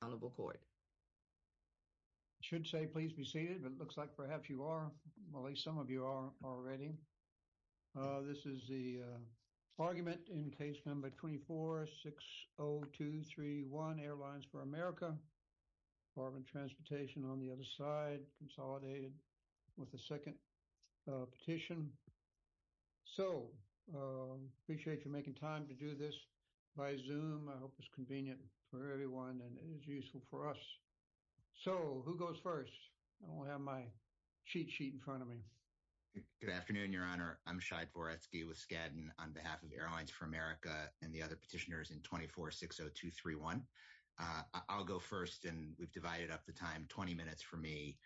tation on the other side. Consolidated with the second petition. So I appreciate you making time to do this by Zoom. I hope it's convenient for everyone and it's useful for us. So who goes first? I don't have my cheat sheet in front of me. Good afternoon, Your Honor. I'm Shai Dvoretsky with Skadden on behalf of Airlines for America and the other petitioners in 2460231. I'll go first, and we've divided up the time. Twenty minutes for me,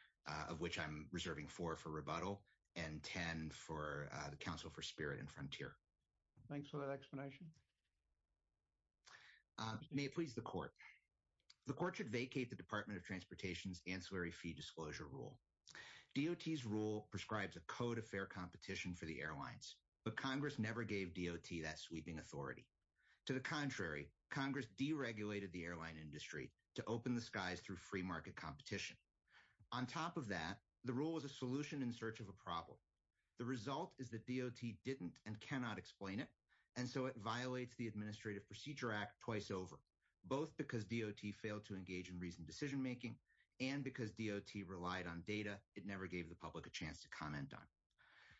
of which I'm reserving four for rebuttal and ten for the Council for Spirit and Frontier. Thanks for that explanation. May it please the Court. The Court should vacate the Department of Transportation's Ancillary Fee Disclosure Rule. DOT's rule prescribes a code of fair competition for the airlines, but Congress never gave DOT that sweeping authority. To the contrary, Congress deregulated the airline industry to open the skies through free market competition. On top of that, the rule was a solution in search of a problem. The result is that DOT didn't and cannot explain it, and so it violates the Administrative Procedure Act twice over, both because DOT failed to engage in reasoned decision-making and because DOT relied on data it never gave the public a chance to comment on.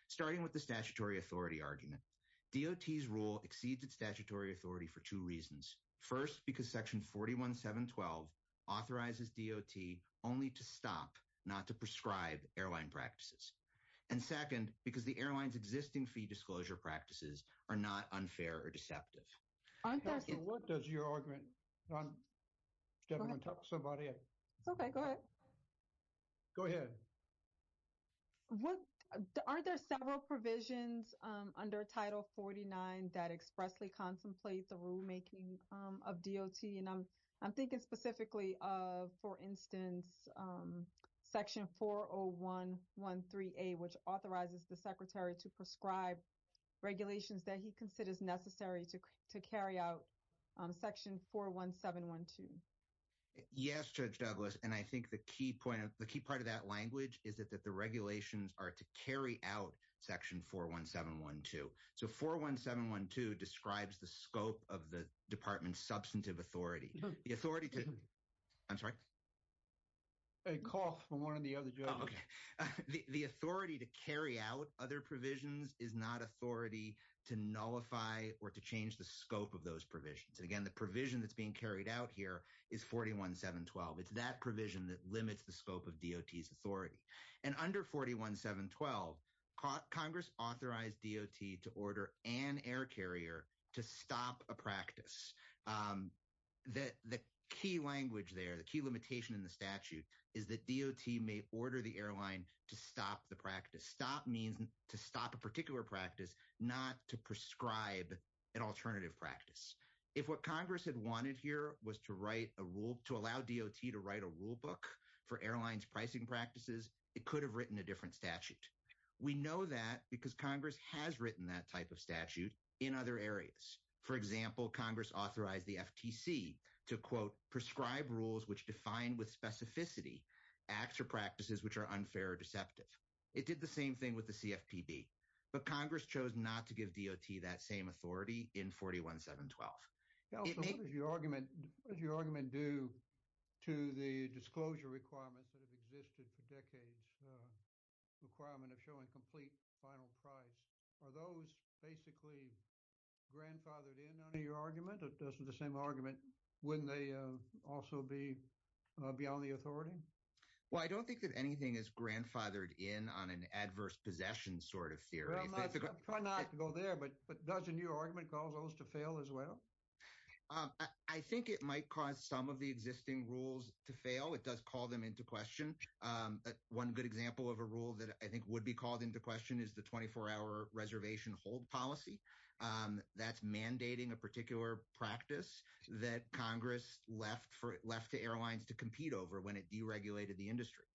Starting with the statutory authority argument, DOT's rule exceeds its statutory authority for two reasons. First, because Section 41712 authorizes DOT only to stop, not to prescribe, airline practices. And second, because the airline's existing fee disclosure practices are not unfair or deceptive. What does your argument... Do you want to talk to somebody? Okay, go ahead. Go ahead. Aren't there several provisions under Title 49 that expressly contemplate the rulemaking of DOT? And I'm thinking specifically of, for instance, Section 40113A, which authorizes the Secretary to prescribe regulations that he considers necessary to carry out Section 41712. Yes, Judge Douglas, and I think the key part of that language is that the regulations are to out Section 41712. So, 41712 describes the scope of the department's substantive authority. The authority to... I'm sorry? Hey, call from one of the other judges. Oh, okay. The authority to carry out other provisions is not authority to nullify or to change the scope of those provisions. Again, the provision that's being carried out here is 41712. It's that provision that limits the scope of DOT's authority. And under 41712, Congress authorized DOT to order an air carrier to stop a practice. The key language there, the key limitation in the statute is that DOT may order the airline to stop the practice. Stop means to stop a particular practice, not to prescribe an alternative practice. If what Congress had wanted here was to allow DOT to write a rulebook for airline's pricing practices, it could have written a different statute. We know that because Congress has written that type of statute in other areas. For example, Congress authorized the FTC to, quote, prescribe rules which define with specificity acts or practices which are unfair or deceptive. It did the same thing with the CFPB. But Congress chose not to give DOT that same authority in 41712. Yeah, also, what does your argument do to the disclosure requirements that have existed for decades, requirement of showing complete final price? Are those basically grandfathered in under your argument? Those are the same argument. Wouldn't they also be beyond the authority? Well, I don't think that anything is grandfathered in on an adverse possession sort of theory. Try not to go there, but does a new argument cause those to fail as well? I think it might cause some of the existing rules to fail. It does call them into question. One good example of a rule that I think would be called into question is the 24-hour reservation hold policy. That's mandating a particular practice that Congress left to the airlines to compete over when it deregulated the industry.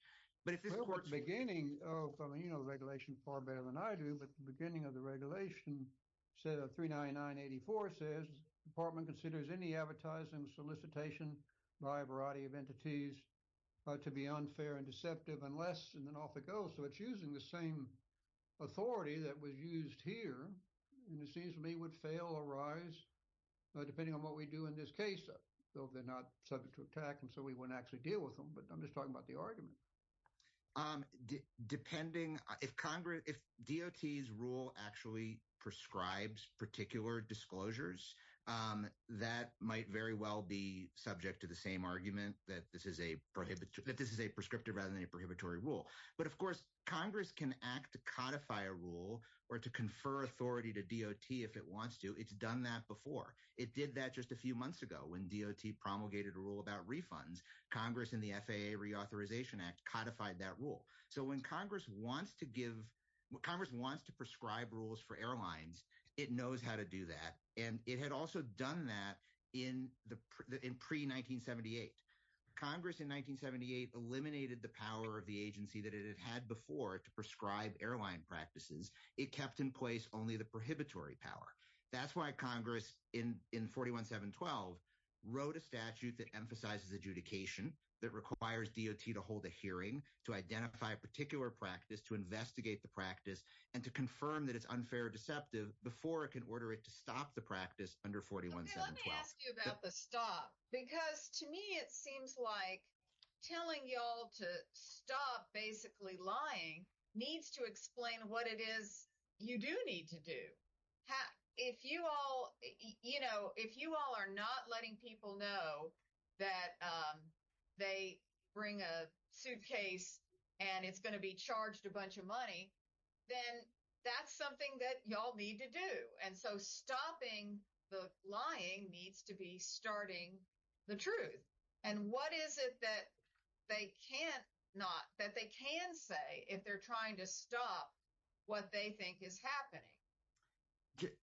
But at the beginning of, I mean, you know the regulation far better than I do, but at the beginning of the regulation, set of 39984 says, department considers any advertising solicitation by a variety of entities to be unfair and deceptive unless, and then off it goes. So, it's using the same authority that was used here, and it seems to me would fail or rise depending on what we do in this case, though they're not subject to attack, and so we wouldn't actually deal with them. But I'm just talking about the argument. Depending, if DOT's rule actually prescribes particular disclosures, that might very well be subject to the same argument that this is a prescriptive rather than a prohibitory rule. But of course, Congress can act to codify a rule or to confer authority to DOT if it wants to. It's done that before. It did that just a few months ago when DOT promulgated a rule about refunds. Congress in the FAA Reauthorization Act codified that rule. So, when Congress wants to give, when Congress wants to prescribe rules for airlines, it knows how to do that, and it had also done that in pre-1978. Congress in 1978 eliminated the power of the agency that it had before to prescribe airline practices. It kept in place only the prohibitory power. That's why Congress in 41-7-12 wrote a statute that emphasizes adjudication, that requires DOT to hold a hearing, to identify a particular practice, to investigate the practice, and to confirm that it's unfair or deceptive before it can order it to stop the practice under 41-7-12. Okay, let me ask you about the stop, because to me it seems like telling y'all to stop basically lying needs to explain what it is you do need to do. If you all, you know, if you all are not letting people know that they bring a suitcase and it's going to be charged a bunch of money, then that's something that y'all need to do. And so, stopping the lying needs to be starting the truth. And what is it that they can't not, that they can say if they're trying to stop what they think is happening?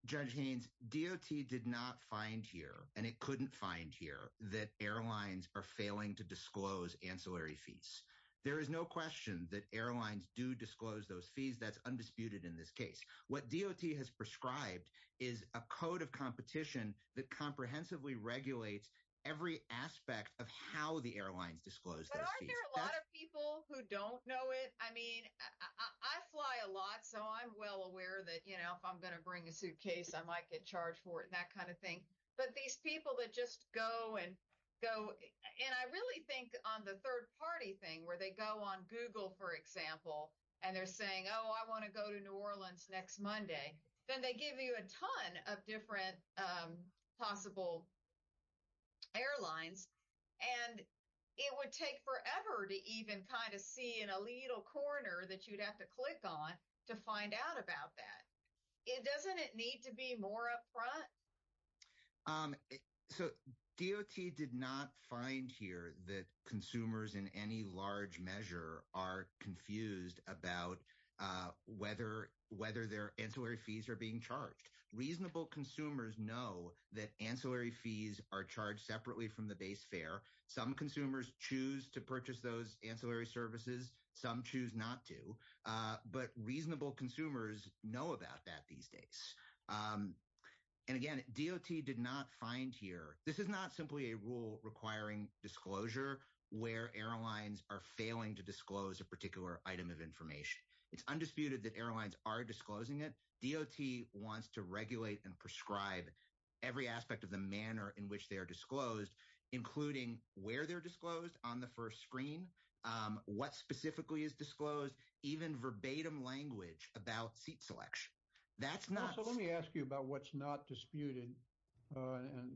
Judge Haynes, DOT did not find here, and it couldn't find here, that airlines are failing to disclose ancillary fees. There is no question that airlines do disclose those fees. That's undisputed in this case. What DOT has prescribed is a code of competition that comprehensively regulates every aspect of how the airlines disclose those fees. But aren't there a lot of people who don't know it? I mean, I fly a lot, so I'm well aware that, you know, if I'm going to bring a suitcase, I might get charged for it and that kind of thing. But these people that just go and go, and I really think on the third-party thing, where they go on Google, for example, and they're saying, oh, I want to go to New Orleans next Monday, then they give you a ton of different possible airlines. And it would take forever to even kind of see an illegal coroner that you'd have to click on to find out about that. Doesn't it need to be more upfront? Um, so DOT did not find here that consumers in any large measure are confused about whether their ancillary fees are being charged. Reasonable consumers know that ancillary fees are charged separately from the base fare. Some consumers choose to purchase those ancillary services. Some choose not to. But reasonable consumers know about that these days. Um, and again, DOT did not find here, this is not simply a rule requiring disclosure where airlines are failing to disclose a particular item of information. It's undisputed that airlines are disclosing it. DOT wants to regulate and prescribe every aspect of the manner in which they are disclosed, including where they're disclosed on the first screen, um, what specifically is disclosed, even verbatim language about seat selection. That's not... So let me ask you about what's not disputed, uh, and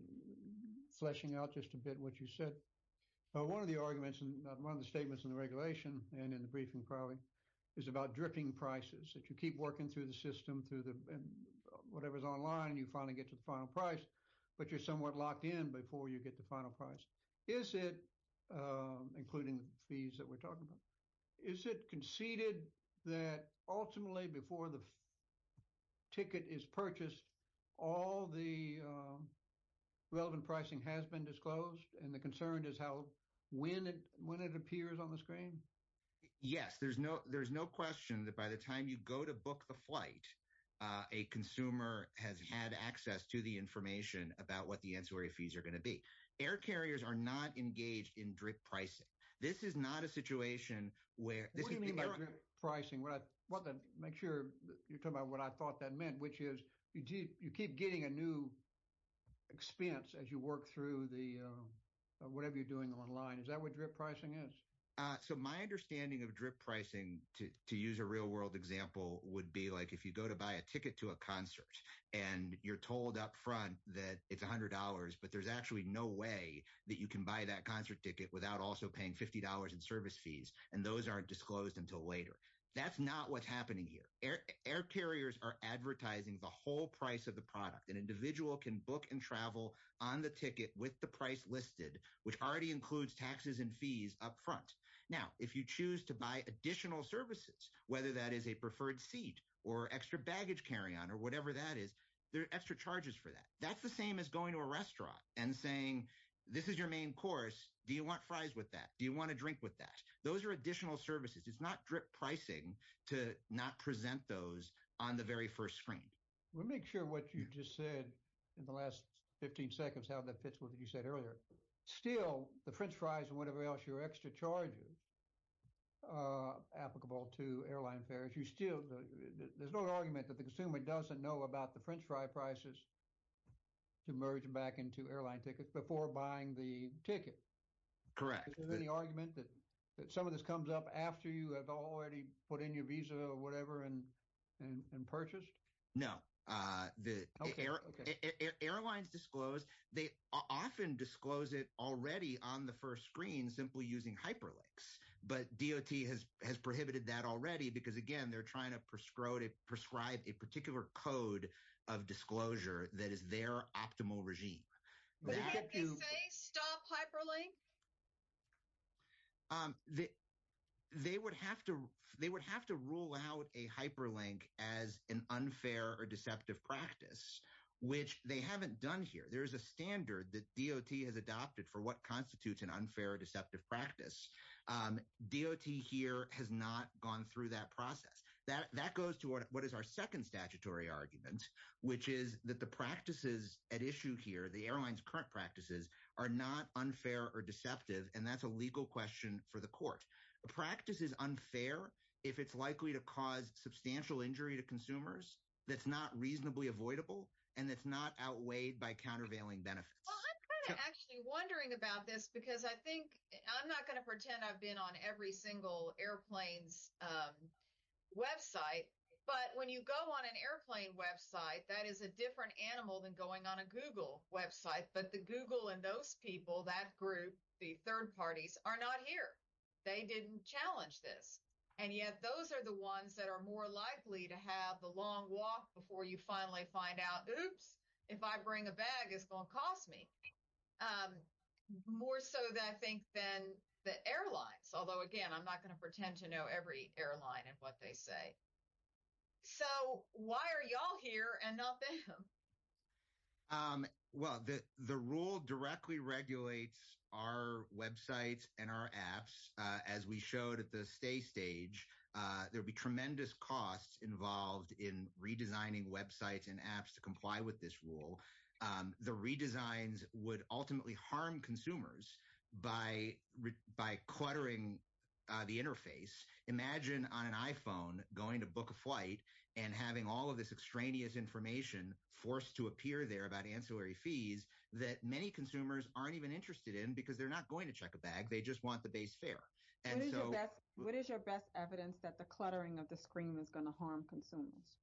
fleshing out just a bit what you said. One of the arguments, one of the statements in the regulation, and in the briefing probably, is about dripping prices, that you keep working through the system, through the, whatever's online, you finally get to the final price, but you're somewhat locked in before you get the final price. Is it, um, including the fees that we're talking about, is it conceded that ultimately before the ticket is purchased, all the, um, relevant pricing has been disclosed, and the concern is how, when it, when it appears on the screen? Yes, there's no, there's no question that by the time you go to book the flight, uh, a consumer has had access to the information about what the ancillary fees are going to be. Air carriers are not engaged in drip pricing. This is not a situation where... What do you mean by drip pricing? What I want to make sure you're talking about what I thought that meant, which is you keep getting a new expense as you work through the, uh, whatever you're doing online. Is that what drip pricing is? Uh, so my understanding of drip pricing, to use a real world example, would be like if you go to buy a ticket to a concert, and you're told up front that it's $100, but there's actually no way that you can buy that concert ticket without also paying $50 in service fees, and those aren't disclosed until later. That's not what's happening here. Air carriers are advertising the whole price of the product. An individual can book and travel on the ticket with the price listed, which already includes taxes and fees up front. Now, if you choose to buy additional services, whether that is a preferred seat or extra baggage carry-on or whatever that is, there are extra charges for that. That's the same as going to a restaurant and saying, this is your main course. Do you want fries with that? Do you want a drink with that? Those are additional services. It's not drip pricing to not present those on the very first screen. We'll make sure what you just said in the last 15 seconds, how that fits with what you said earlier. Still, the french fries and whatever else, your extra charges, are applicable to airline fares. There's no argument that the consumer doesn't know about the french fry prices to merge back into airline tickets before buying the ticket. Correct. Is there any argument that some of this comes up after you have already put in your visa or whatever and purchased? No. Airlines disclose. They often disclose it already on the first screen simply using hyperlinks, but DOT has prohibited that already because, again, they're trying to prescribe a particular code of disclosure that is their optimal regime. What if they say stop hyperlink? They would have to rule out a hyperlink as an unfair or deceptive practice, which they haven't done here. There's a standard that DOT has adopted for what constitutes an unfair or deceptive practice. DOT here has not gone through that process. That goes to what is our second statutory argument, which is that the practices at issue here, the airline's current practices, are not unfair or deceptive, and that's a legal question for the court. A practice is unfair if it's likely to cause substantial injury to consumers that's not reasonably avoidable and that's not outweighed by countervailing benefits. I'm kind of actually wondering about this because I think I'm not going to pretend I've been on every single airplane's website, but when you go on an airplane website, that is a different animal than going on a Google website, but the Google and those people, that group, the third parties, are not here. They didn't challenge this, and yet those are the ones that are likely to have the long walk before you finally find out, oops, if I bring a bag, it's going to cost me, more so than I think than the airlines, although, again, I'm not going to pretend to know every airline and what they say, so why are y'all here and not them? Well, the rule directly regulates our websites and our apps. As we showed at the stay stage, there'll be tremendous costs involved in redesigning websites and apps to comply with this rule. The redesigns would ultimately harm consumers by cluttering the interface. Imagine on an iPhone going to book a flight and having all of this extraneous information forced to appear there about ancillary fees that many consumers aren't even interested in because they're not going to check a bag. They just want the base fare. What is your best evidence that the cluttering of the screen is going to harm consumers?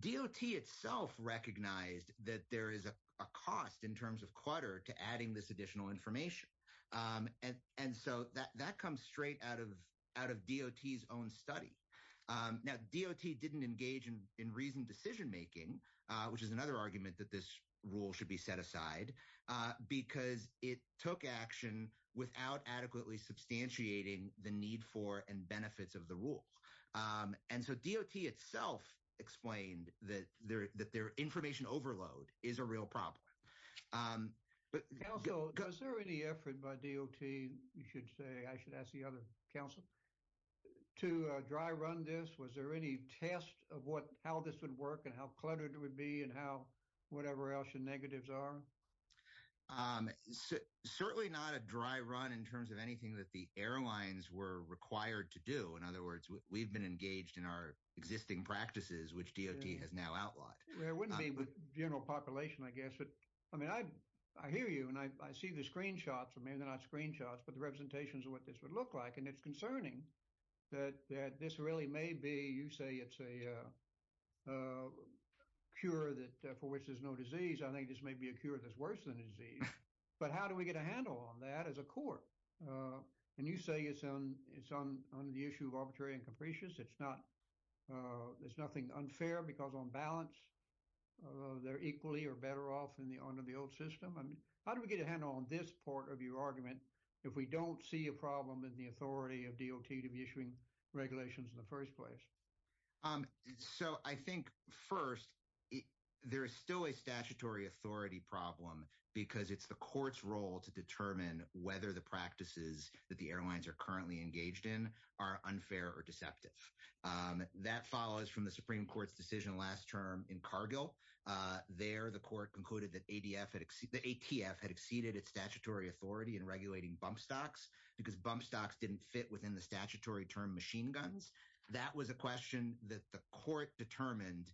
DOT itself recognized that there is a cost in terms of clutter to adding this additional information, and so that comes straight out of DOT's own study. Now, DOT didn't engage in reasoned decision-making, which is another argument that this rule should be set aside, because it took action without adequately substantiating the need for and benefits of the rule, and so DOT itself explained that their information overload is a real problem. Counsel, is there any effort by DOT, you should say, I should ask the other counsel, to dry run this? Was there any test of what how this would work and how cluttered it would be and how whatever else your negatives are? Certainly not a dry run in terms of anything that the airlines were required to do. In other words, we've been engaged in our existing practices, which DOT has now outlawed. It wouldn't be the general population, I guess, but I mean I hear you and I see the screenshots, or maybe they're not screenshots, but the representations of what this would look like, and it's concerning that this really may be, you say it's a cure for which there's no disease. I think this may be a cure that's worse than a disease, but how do we get a handle on that as a court? And you say it's on the issue of arbitrary and capricious. There's nothing unfair because on balance they're equally or better off under the system. How do we get a handle on this part of your argument if we don't see a problem in the authority of DOT to be issuing regulations in the first place? So I think first there is still a statutory authority problem because it's the court's role to determine whether the practices that the airlines are currently engaged in are unfair or deceptive. That follows from the ATF had exceeded its statutory authority in regulating bump stocks because bump stocks didn't fit within the statutory term machine guns. That was a question that the court determined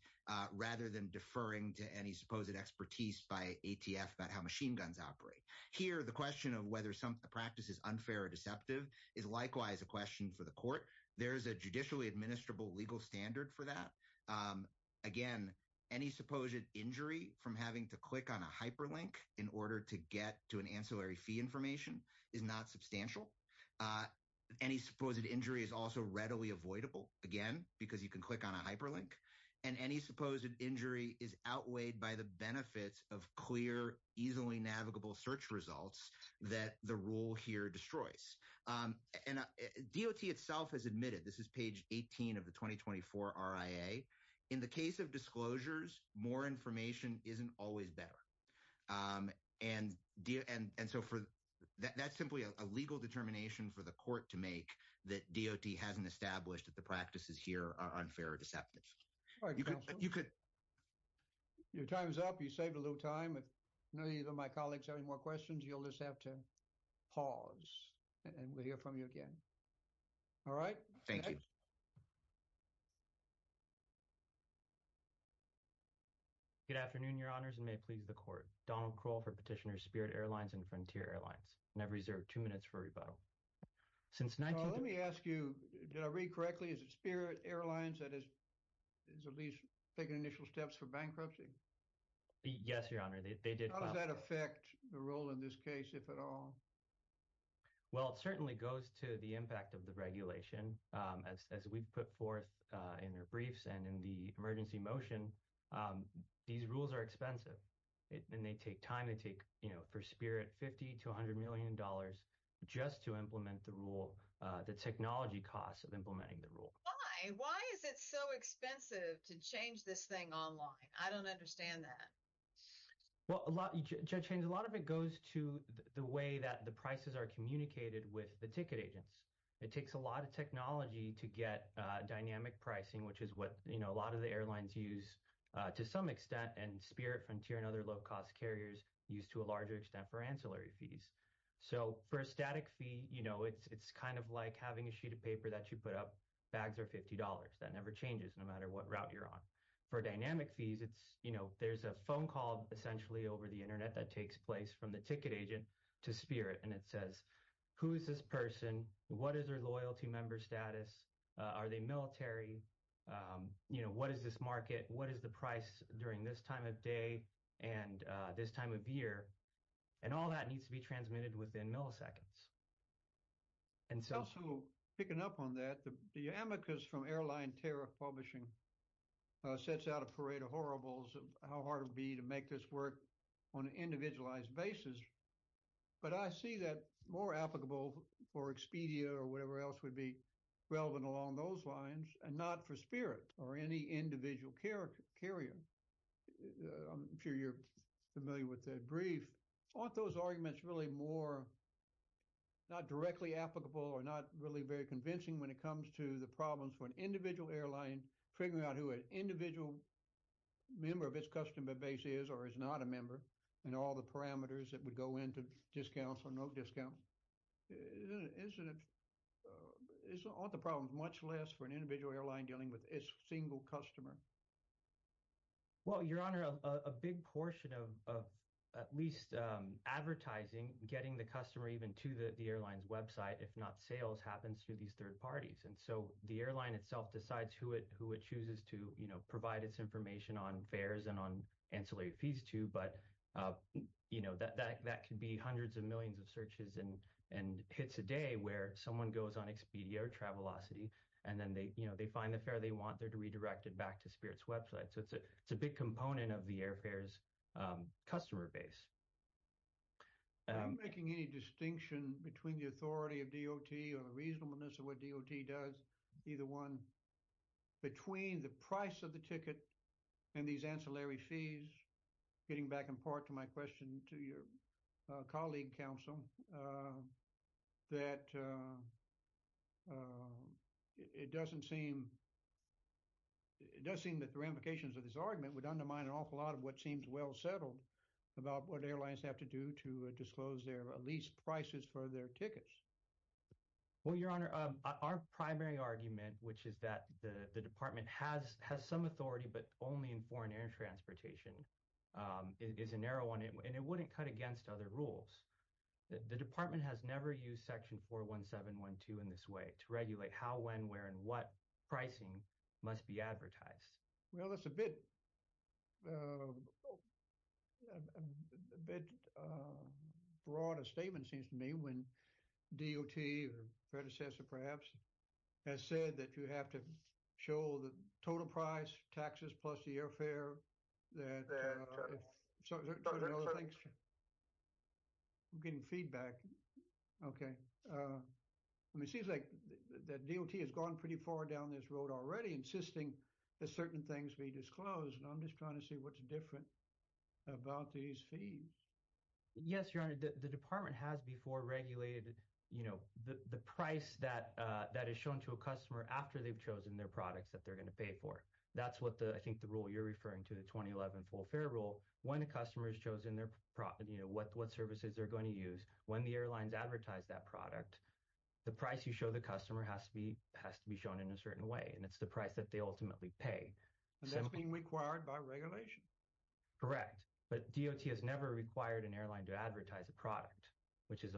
rather than deferring to any supposed expertise by ATF about how machine guns operate. Here the question of whether some practice is unfair or deceptive is likewise a question for the court. There's a judicially administrable legal standard for that. Again, any supposed injury from having to click on a hyperlink in order to get to an ancillary fee information is not substantial. Any supposed injury is also readily avoidable, again, because you can click on a hyperlink. And any supposed injury is outweighed by the benefits of clear, easily navigable search results that the rule here destroys. And DOT itself has admitted, this is 18 of the 2024 RIA, in the case of disclosures, more information isn't always better. And so for that, that's simply a legal determination for the court to make that DOT hasn't established that the practices here are unfair or deceptive. You're time's up. You saved a little time. If any of my colleagues have any more questions, you'll just have to pause and we'll hear from you again. All right. Thank you. Good afternoon, Your Honors, and may it please the court. Donald Kroll for Petitioner Spirit Airlines and Frontier Airlines. And I've reserved two minutes for rebuttal. Since 19- So let me ask you, did I read correctly? Is it Spirit Airlines that is at least taking initial steps for bankruptcy? Yes, Your Honor, they did- How does that affect the role in this case, if at all? Well, it certainly goes to the impact of the regulation, as we've put forth in our briefs and in the emergency motion. These rules are expensive and they take time. They take, you know, for Spirit, $50 to $100 million just to implement the rule, the technology costs of implementing the rule. Why? Why is it so expensive to change this thing online? I don't understand that. Well, Judge Haynes, a lot of it goes to the way that the prices are communicated with the ticket agents. It takes a lot of technology to get dynamic pricing, which is what a lot of the airlines use to some extent, and Spirit, Frontier, and other low-cost carriers use to a larger extent for ancillary fees. So for a static fee, you know, it's kind of like having a sheet of paper that you put up, bags are $50. That never changes no matter what route you're on. For dynamic fees, it's, you know, there's a phone call essentially over the internet that takes place from the ticket agent to Spirit, and it says, who is this person? What is their loyalty member status? Are they military? You know, what is this market? What is the price during this time of day and this time of year? And all that needs to be transmitted within milliseconds. And also, picking up on that, the amicus from Airline Tariff Publishing sets out a parade of horribles of how hard it would be to make this work on an individualized basis. But I see that more applicable for Expedia or whatever else would be relevant along those lines, and not for Spirit or any individual carrier. I'm sure you're familiar with that brief. Aren't those arguments really more, not directly applicable or not really very convincing when it comes to the problems for an individual airline, figuring out who an individual member of its customer base is or is not a member, and all the parameters that would go into discounts or no discounts? Isn't it, aren't the problems much less for an individual airline dealing with its single customer? Well, Your Honor, a big portion of at least advertising, getting the customer even to the airline's website, if not sales, happens through these third parties. And so the airline itself decides who it chooses to provide its information on fares and on ancillary fees too. But that can be hundreds of millions of searches and hits a day where someone goes on Expedia or Travelocity, and then they find the fare they want, they're to redirect it to Spirit's website. So it's a big component of the airfare's customer base. I'm not making any distinction between the authority of DOT or the reasonableness of what DOT does, either one. Between the price of the ticket and these ancillary fees, getting back in part to my question to your colleague, counsel, that it doesn't seem, it does seem that the ramifications of this argument would undermine an awful lot of what seems well settled about what airlines have to do to disclose their lease prices for their tickets. Well, Your Honor, our primary argument, which is that the department has some authority, but only in foreign air transportation, is a narrow one, and it wouldn't cut against other rules. The department has never used Section 41712 in this way to regulate how, when, where, and what pricing must be advertised. Well, that's a bit broad a statement, seems to me, when DOT or predecessor perhaps has said that you have to show the total price, taxes plus the airfare. I'm getting feedback. Okay. It seems like that DOT has gone pretty far down this road already, insisting that certain things be disclosed, and I'm just trying to see what's different about these fees. Yes, Your Honor, the department has before regulated the price that is shown to after they've chosen their products that they're going to pay for. That's what I think the rule you're referring to, the 2011 full fare rule, when a customer has chosen what services they're going to use, when the airlines advertise that product, the price you show the customer has to be shown in a certain way, and it's the price that they ultimately pay. And that's being required by regulation? Correct, but DOT has never required an airline to advertise a product, which is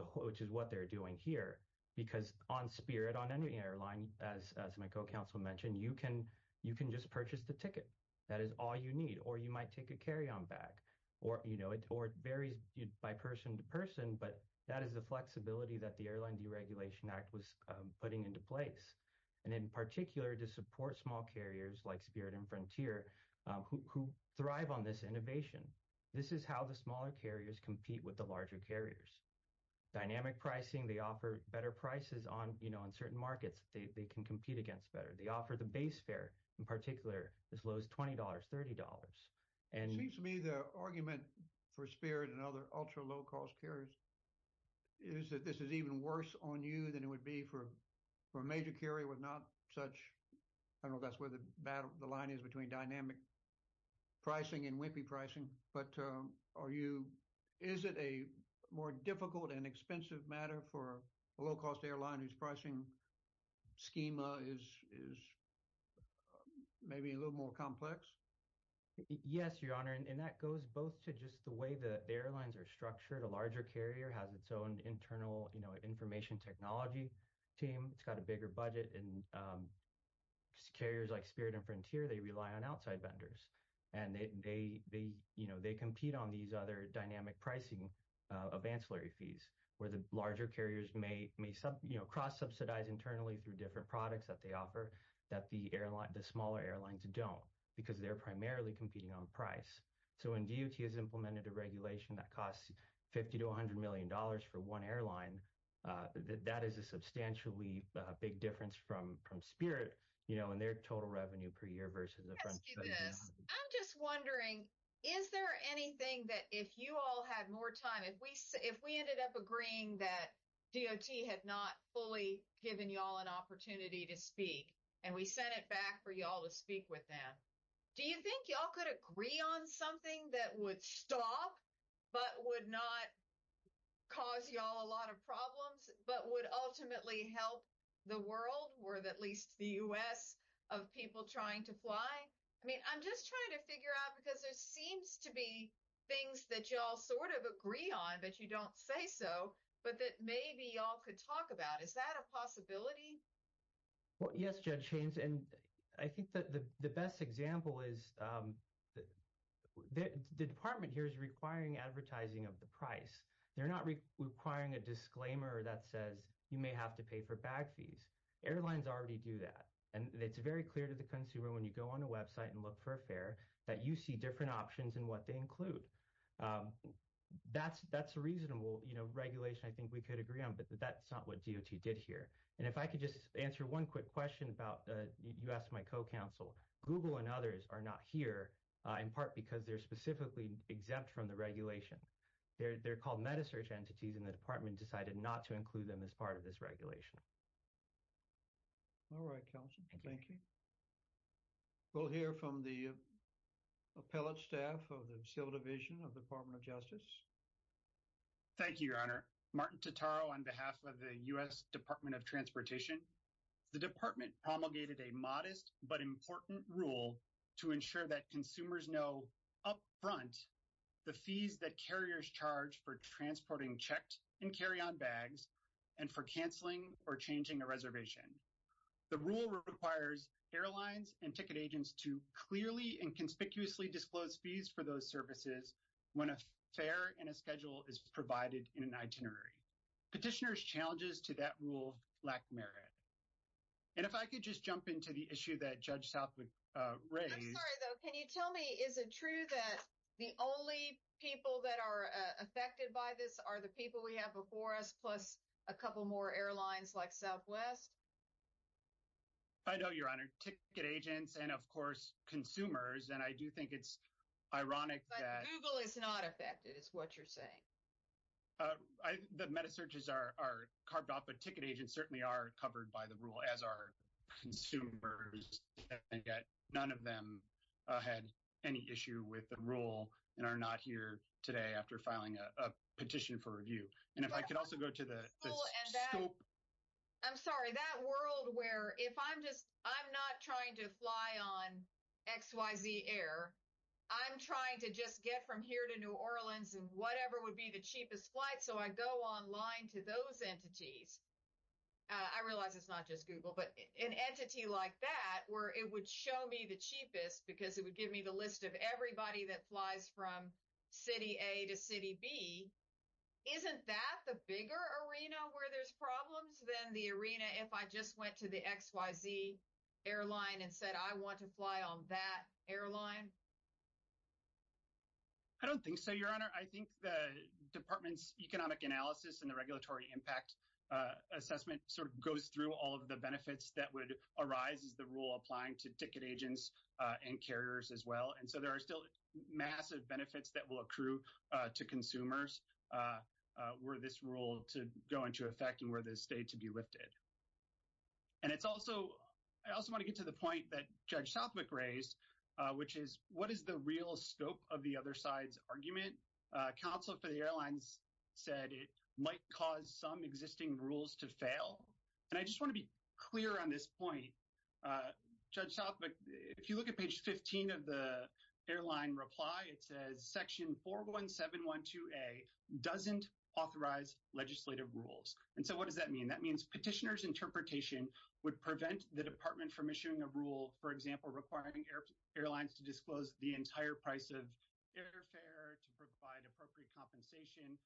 what they're doing here, because on Spirit, on any airline, as my co-counsel mentioned, you can just purchase the ticket. That is all you need, or you might take a carry-on bag, or it varies by person to person, but that is the flexibility that the Airline Deregulation Act was putting into place, and in particular, to support small carriers like Spirit and Frontier who thrive on this innovation. This is how the smaller carriers compete with the larger carriers. Dynamic pricing, they offer better prices on certain markets they can compete against better. They offer the base fare, in particular, as low as $20, $30. It seems to me the argument for Spirit and other ultra-low cost carriers is that this is even worse on you than it would be for a major carrier with not such... I don't know if that's where the line is between dynamic pricing and wimpy pricing, but is it a more difficult and expensive matter for a low-cost airline whose pricing schema is maybe a little more complex? Yes, Your Honor, and that goes both to just the way the airlines are structured. A larger carrier has its own internal information technology team. It's got a bigger budget, and carriers like Spirit and Frontier, they rely on outside vendors, and they compete on these other dynamic pricing of ancillary fees where the larger carriers may cross-subsidize internally through different products that they offer that the smaller airlines don't because they're primarily competing on price. So, when DOT has implemented a regulation that costs $50 to $100 million for one airline, that is a substantially big difference from Spirit and their total revenue per year versus the Frontier. I'm just wondering, is there anything that if you all had more time, if we ended up agreeing that DOT had not fully given you all an opportunity to speak, and we sent it back for you all to speak with them, do you think you all would agree on something that would stop but would not cause you all a lot of problems but would ultimately help the world or at least the U.S. of people trying to fly? I mean, I'm just trying to figure out because there seems to be things that you all sort of agree on, but you don't say so, but that maybe you all could talk about. Is that a possibility? Well, yes, Judge Haynes, and I think the best example is the department here is requiring advertising of the price. They're not requiring a disclaimer that says you may have to pay for bag fees. Airlines already do that, and it's very clear to the consumer when you go on a website and look for a fare that you see different options and what they include. That's a reasonable regulation I think we could agree on, but that's not what DOT did here. And if I could just answer one quick question about, you asked my co-counsel, Google and others are not here in part because they're specifically exempt from the regulation. They're called meta-search entities and the department decided not to include them as part of this regulation. All right, counsel. Thank you. We'll hear from the appellate staff of the civil division of the Department of Justice. Thank you, your honor. Martin Totaro on behalf of the U.S. Department of Transportation. The department promulgated a modest but important rule to ensure that consumers know up front the fees that carriers charge for transporting checked and carry-on bags and for canceling or changing a reservation. The rule requires airlines and ticket agents to clearly and conspicuously disclose fees for those services when a fare and a schedule is provided in an And if I could just jump into the issue that Judge Southwood raised. I'm sorry though, can you tell me is it true that the only people that are affected by this are the people we have before us plus a couple more airlines like Southwest? I know, your honor. Ticket agents and of course consumers and I do think it's ironic that Google is not affected is what you're saying. The meta searches are carved off, but ticket agents certainly are covered by the rule as our consumers and yet none of them had any issue with the rule and are not here today after filing a petition for review. And if I could also go to the scope. I'm sorry, that world where if I'm just I'm not trying to fly on xyz air, I'm trying to just get from here to New Orleans and whatever would be the cheapest flight. So I go online to those entities. I realize it's not just Google, but an entity like that where it would show me the cheapest because it would give me the list of everybody that flies from City A to City B. Isn't that the bigger arena where there's problems than the arena if I just went to the xyz airline and said I want to fly on that airline? I don't think so, your honor. I think the department's economic analysis and the regulatory impact assessment sort of goes through all of the benefits that would arise is the rule applying to ticket agents and carriers as well. And so there are still massive benefits that will accrue to consumers where this rule to go into effect and where the state to be lifted. And it's also I also get to the point that Judge Southwick raised, which is what is the real scope of the other side's argument? Counsel for the airlines said it might cause some existing rules to fail. And I just want to be clear on this point. Judge Southwick, if you look at page 15 of the airline reply, it says Section 41712A doesn't authorize legislative rules. And so what does that mean? That means petitioner's interpretation would prevent the department from issuing a rule, for example, requiring airlines to disclose the entire price of airfare to provide appropriate compensation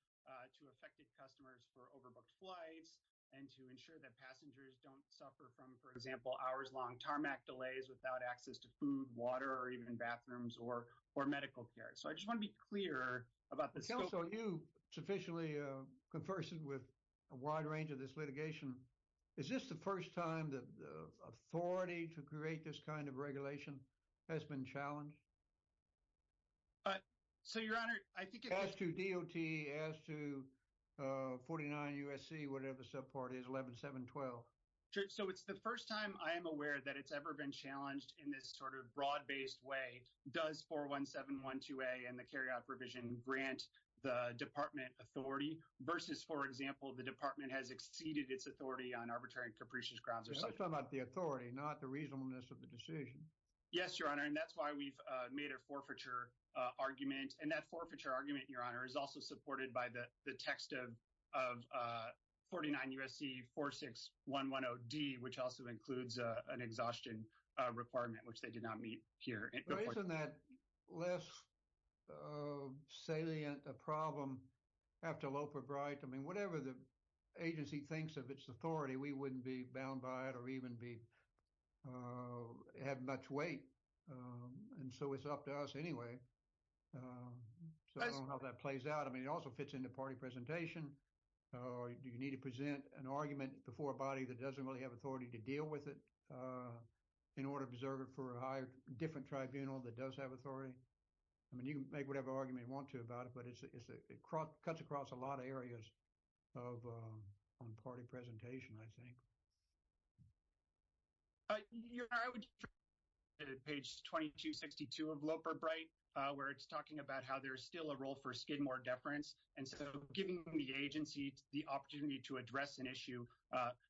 to affected customers for overbooked flights and to ensure that passengers don't suffer from, for example, hours long tarmac delays without access to food, water or even bathrooms or or medical care. So I just want to be clear about this. So you sufficiently conversed with a wide range of this litigation. Is this the first time that the authority to create this kind of regulation has been challenged? But so, Your Honor, I think it has to D.O.T. as to 49 U.S.C., whatever subpart is 11712. So it's the first time I am aware that it's ever been challenged in this sort of broad based way. Does 41712A and the carryout provision grant the department authority versus, for example, the department has exceeded its authority on arbitrary and capricious grounds or something about the authority, not the reasonableness of the decision? Yes, Your Honor. And that's why we've made a forfeiture argument. And that forfeiture argument, Your Honor, is also supported by the text of 49 U.S.C. 46110D, which also includes an exhaustion requirement, which they did not meet here. Isn't that less salient a problem after Loeb or Bright? I mean, whatever the agency thinks of its authority, we wouldn't be bound by it or even be have much weight. And so it's up to us anyway. So I don't know how that plays out. I mean, it also fits into party presentation. Do you need to present an argument before a body that doesn't really have authority to deal with it in order to preserve it for a higher different tribunal that does have authority? I mean, you can make whatever argument you want to about it, but it cuts across a lot of areas of party presentation, I think. Your Honor, I would page 2262 of Loeb or Bright, where it's talking about how there's still a role for Skidmore deference. And so giving the agency the opportunity to address an issue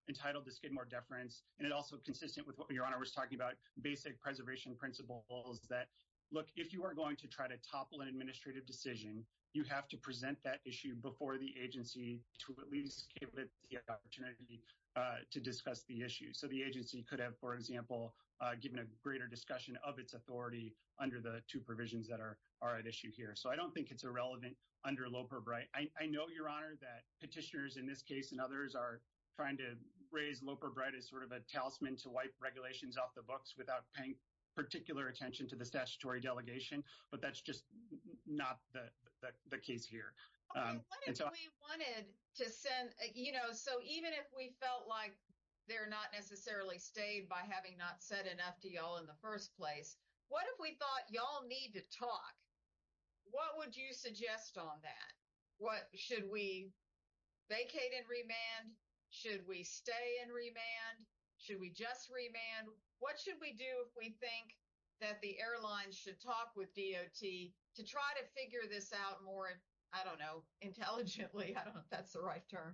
entitled the Skidmore deference, and it also consistent with what Your Honor was talking about, basic preservation principles that, look, if you are going to try to topple an administrative decision, you have to present that issue before the agency to at least give it the opportunity to discuss the issue. So the agency could have, for example, given a greater discussion of its under the two provisions that are at issue here. So I don't think it's irrelevant under Loeb or Bright. I know, Your Honor, that petitioners in this case and others are trying to raise Loeb or Bright as sort of a talisman to wipe regulations off the books without paying particular attention to the statutory delegation, but that's just not the case here. Okay, what if we wanted to send, you know, so even if we felt like they're not necessarily staying by having not said enough to y'all in the first place, what if we thought y'all need to talk? What would you suggest on that? Should we vacate and remand? Should we stay and remand? Should we just remand? What should we do if we think that the airlines should talk with DOT to try to figure this out more, I don't know, intelligently, I don't know if that's the term.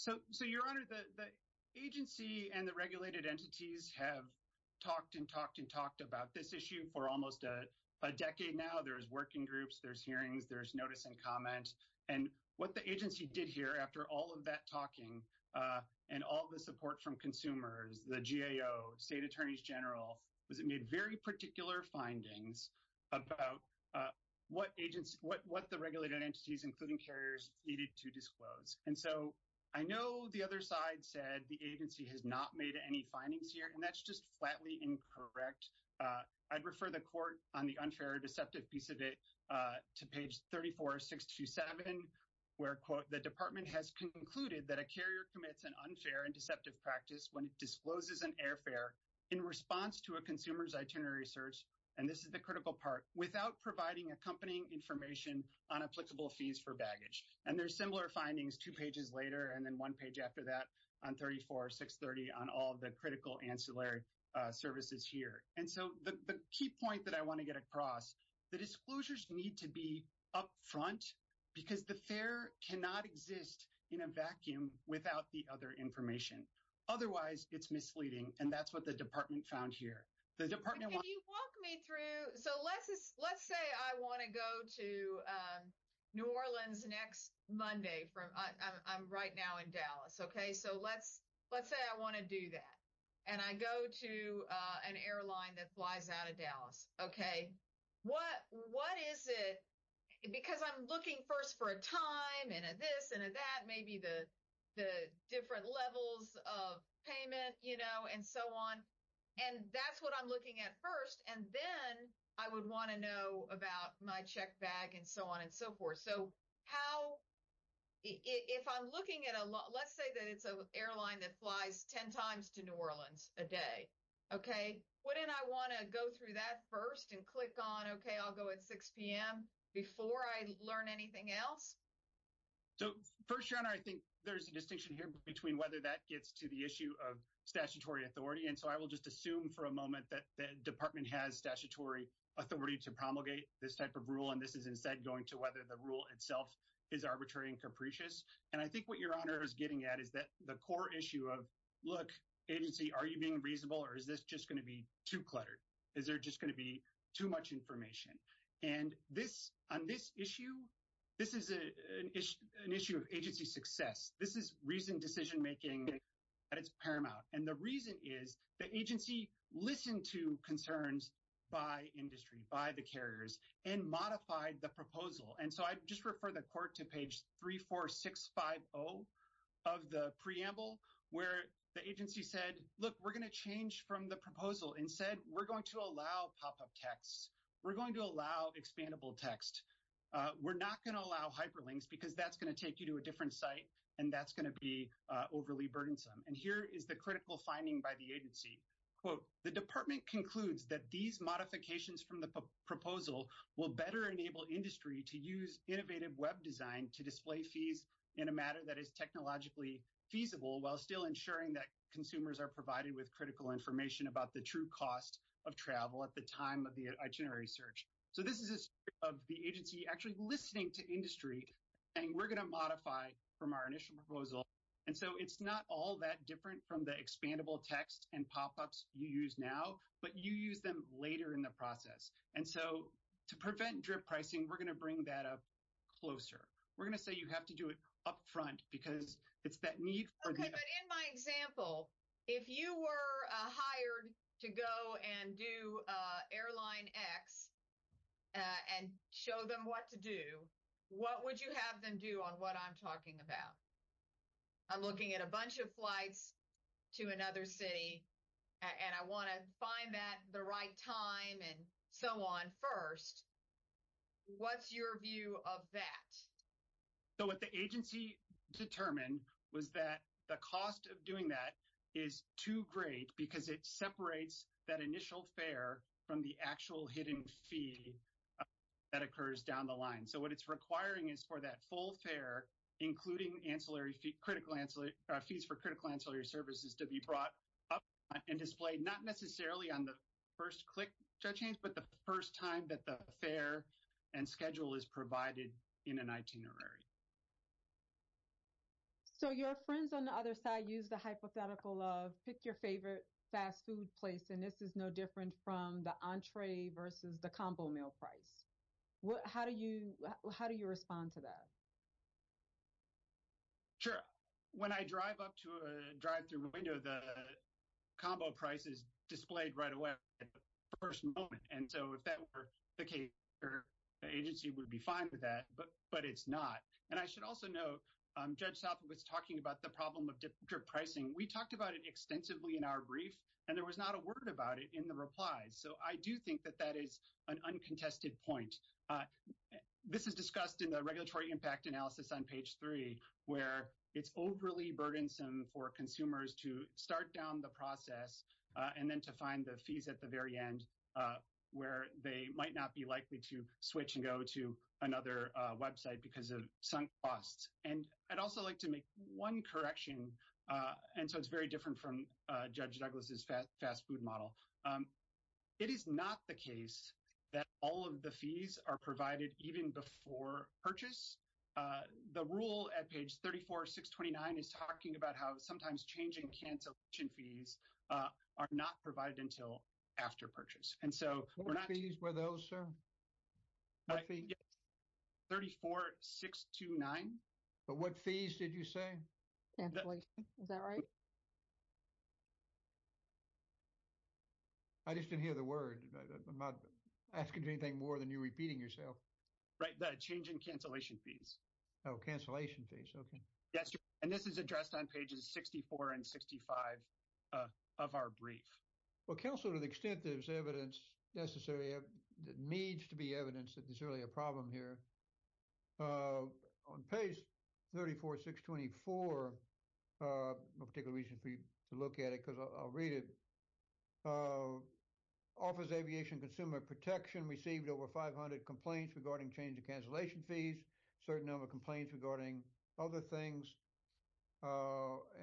So, Your Honor, the agency and the regulated entities have talked and talked and talked about this issue for almost a decade now. There's working groups, there's hearings, there's notice and comment, and what the agency did here after all of that talking and all the support from consumers, the GAO, state attorneys general, was it made very particular findings about what the regulated entities, including carriers, needed to disclose. And so, I know the other side said the agency has not made any findings here, and that's just flatly incorrect. I'd refer the court on the unfair or deceptive piece of it to page 34627, where, quote, the department has concluded that a carrier commits an unfair and deceptive practice when it discloses an airfare in response to a consumer's itinerary search, and this is the critical part, without providing accompanying information on applicable fees for baggage. And there's similar findings two pages later and then one page after that on 34630 on all the critical ancillary services here. And so, the key point that I want to get across, the disclosures need to be up front because the fare cannot exist in a vacuum without the other information. Otherwise, it's misleading, and that's what the department found here. The department... Can you walk me through... So, let's say I want to go to New Orleans next Monday. I'm right now in Dallas, okay? So, let's say I want to do that, and I go to an airline that flies out of Dallas, okay? What is it... Because I'm looking first for a time and a this and a that, maybe the different levels of payment, you know, and so on. And that's what I'm looking at first, and then I would want to know about my check bag and so on and so forth. So, how... If I'm looking at a... Let's say that it's an airline that flies 10 times to New Orleans a day, okay? Wouldn't I want to go through that first and click on, okay, I'll go at 6 p.m. before I learn anything else? So, first, Sharon, I think there's a distinction here between whether that gets to the issue of statutory authority. And so, I will just assume for a moment that the department has statutory authority to promulgate this type of rule, and this is instead going to whether the rule itself is arbitrary and capricious. And I think what your honor is getting at is that the core issue of, look, agency, are you being reasonable, or is this just going to be too cluttered? Is there just going to be too much information? And this... On this issue, this is an issue of agency success. This is reasoned decision making, but it's paramount. And the reason is the agency listened to concerns by industry, by the carriers, and modified the proposal. And so, I just refer the court to page 34650 of the preamble, where the agency said, look, we're going to change from the proposal and said we're going to allow pop-up texts. We're going to allow expandable text. We're not going to allow hyperlinks because that's going to take you to a different site and that's going to be overly burdensome. And here is the critical finding by the agency. Quote, the department concludes that these modifications from the proposal will better enable industry to use innovative web design to display fees in a matter that is technologically feasible while still ensuring that consumers are provided with critical information about the true cost of travel at the time of the itinerary search. So, this is of the agency actually listening to industry and we're going to modify from our initial proposal. And so, it's not all that different from the expandable text and pop-ups you use now, but you use them later in the process. And so, to prevent drip pricing, we're going to bring that up closer. We're going to say you have to do it up front because it's that need. Okay, but in my example, if you were hired to go and do airline x and show them what to do, what would you have them do on what I'm talking about? I'm looking at a bunch of flights to another city and I want to find that the right time and so on first. What's your view of that? So, what the agency determined was that the cost of doing that is too great because it separates that initial fare from the actual hidden fee that occurs down the line. So, what it's requiring is for that full fare, including fees for critical ancillary services to be brought up and displayed not necessarily on the first click, but the first time that the fare and schedule is provided in an itinerary. So, your friends on the other side use the hypothetical of pick your favorite fast food place and this is no different from the entree versus the combo meal price. How do you respond to that? Sure. When I drive up to a drive-through window, the combo price is displayed right away at the first moment. And so, if that were the case, the agency would be fine with that, but it's not. And I should also note, Judge South was talking about the problem of drip pricing. We talked about it extensively in our brief and there was not a word about it in the replies. So, I do think that that is an uncontested point. This is discussed in the regulatory impact analysis on page three where it's overly burdensome for consumers to start down the process and then to find the fees at the very end where they might not be likely to switch and go to another website because of sunk costs. And I'd also like to make one correction. And so, it's very different from Judge Douglas's fast food model. It is not the case that all of the fees are provided even before purchase. The rule at page 34.629 is talking about how sometimes changing cancellation fees are not provided until after purchase. And so, we're not- What fees were those, sir? 34.629. But what fees did you say? Is that right? I just didn't hear the word. I'm not asking for anything more than you repeating yourself. Right. The change in cancellation fees. Oh, cancellation fees. Okay. Yes, sir. And this is addressed on pages 64 and 65 of our brief. Well, counsel, to the extent there's evidence necessary, needs to be evidence that there's really a problem here. On page 34.624, a particular reason for you to look at it because I'll read it, offers aviation consumer protection received over 500 complaints regarding change in cancellation fees, certain number of complaints regarding other things.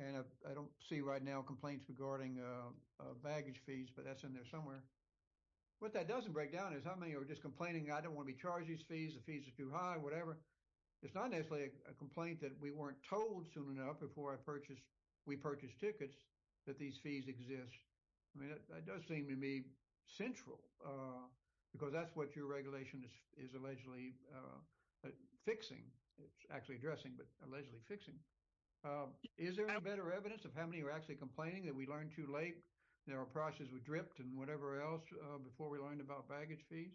And I don't see right now complaints regarding baggage fees, but that's in there somewhere. What that doesn't break down is how many are just complaining, I don't want to be charged these fees, the fees are too high, whatever. It's not necessarily a complaint that we weren't told soon enough before I purchased, we purchased tickets that these fees exist. I mean, that does seem to me central because that's what your regulation is allegedly fixing. It's actually addressing, but allegedly fixing. Um, is there any better evidence of how many are actually complaining that we learned too late, their prices were dripped and whatever else, uh, before we learned about baggage fees?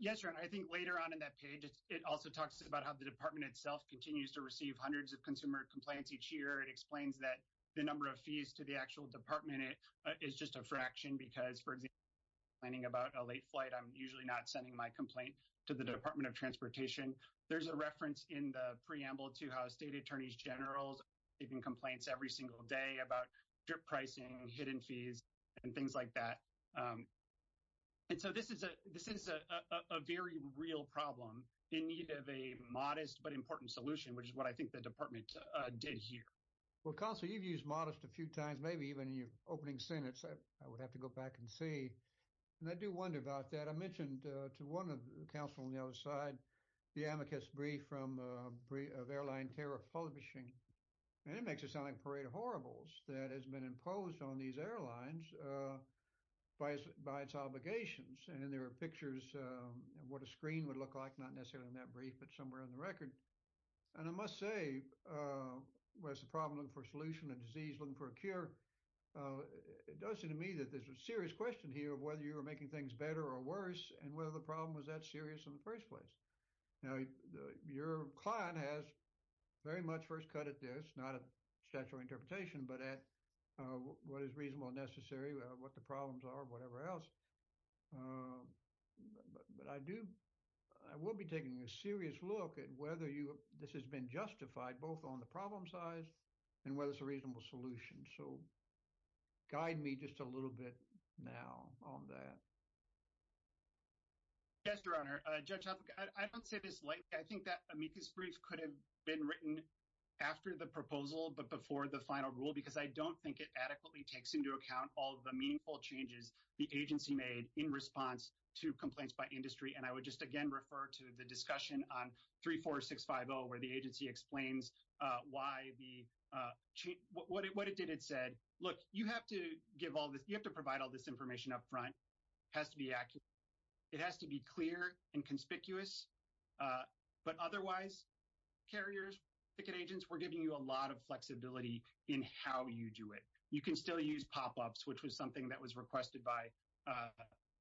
Yes, sir. And I think later on in that page, it also talks about how the department itself continues to receive hundreds of consumer complaints each year. It explains that the number of fees to the actual department is just a fraction because for example, planning about a late flight, I'm usually not sending my complaint to the department of transportation. There's a reference in the preamble to how state attorneys generals even complaints every single day about drip pricing, hidden fees and things like that. And so this is a, this is a very real problem in need of a modest, but important solution, which is what I think the department did here. Well, counsel, you've used modest a few times, maybe even in your opening sentence, I would have to go back and see. And I do wonder about that. I mentioned to one of the counsel on the other side, the amicus brief from a brief of airline tariff publishing. And it makes it sound like parade of horribles that has been imposed on these airlines, uh, by its, by its obligations. And then there were pictures of what a screen would look like, not necessarily in that brief, but somewhere in the record. And I must say, uh, where's the problem looking for a solution, a disease looking for a cure. Uh, it does seem to me that there's a serious question here of whether you were making things better or worse and whether the problem was that serious in the first place. Now your client has very much first cut at this, not a statutory interpretation, but at, uh, what is reasonable and necessary, what the problems are, whatever else. Um, but I do, I will be taking a serious look at whether you, this has been justified both on the problem size and whether it's a Yes, your honor, uh, judge, I don't say this lightly. I think that amicus brief could have been written after the proposal, but before the final rule, because I don't think it adequately takes into account all of the meaningful changes the agency made in response to complaints by industry. And I would just again, refer to the discussion on three, four, six, five, oh, where the agency explains, uh, why the, uh, what it, what it did. It said, look, you have to give all this, you have to provide all this information up front has to be accurate. It has to be clear and conspicuous, uh, but otherwise carriers, ticket agents, we're giving you a lot of flexibility in how you do it. You can still use pop-ups, which was something that was requested by, uh,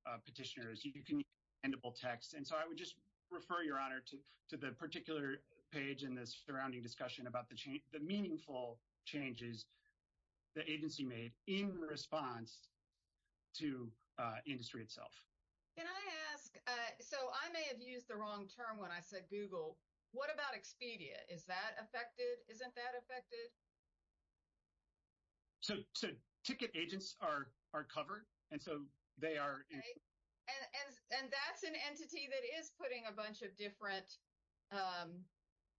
uh, petitioners. You can endable texts. And so I would just refer your honor to, to the particular page in this surrounding discussion about the change, the meaningful changes the agency made in response to, uh, industry itself. Can I ask, uh, so I may have used the wrong term when I said Google, what about Expedia? Is that affected? Isn't that affected? So, so ticket agents are, are covered. And so they are. And, and, and that's an entity that is putting a bunch of different, um,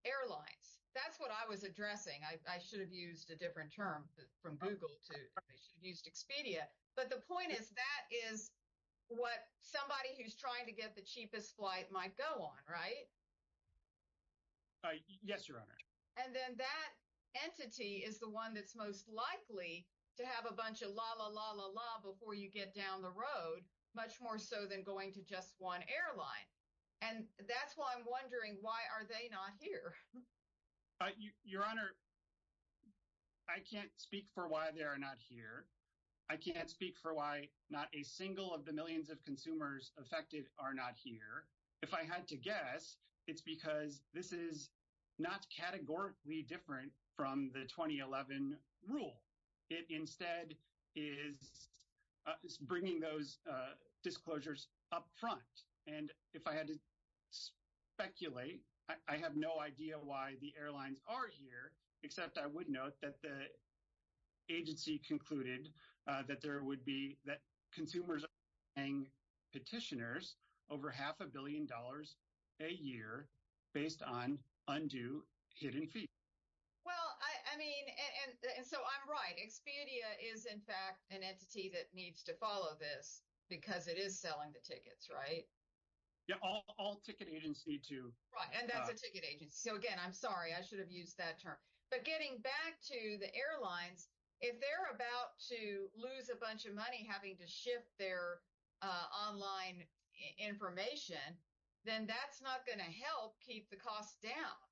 airlines. That's what I was addressing. I should have used a different term from Google to Expedia. But the point is that is what somebody who's trying to get the cheapest flight might go on, right? Yes, your honor. And then that entity is the one that's most likely to have a bunch of la, la, la, la, la, before you get down the road, much more so than going to just one airline. And that's why I'm wondering, why are they not here? Uh, you, your honor, I can't speak for why they are not here. I can't speak for why not a single of the millions of consumers affected are not here. If I had to guess, it's because this is not categorically different from the 2011 rule. It instead is, uh, is bringing those, uh, disclosures up front. And if I had to speculate, I have no idea why the airlines are here, except I would note that the agency concluded, uh, that there would be that consumers are paying petitioners over half a billion dollars a year based on undue hidden fees. Well, I mean, and so I'm right. Expedia is in fact an entity that needs to follow this because it is selling the tickets, right? Yeah, all ticket agencies do. And that's a ticket agency. So again, I'm sorry, I should have used that term, but getting back to the airlines, if they're about to lose a bunch of money, having to shift their, uh, online information, then that's not going to help keep the costs down,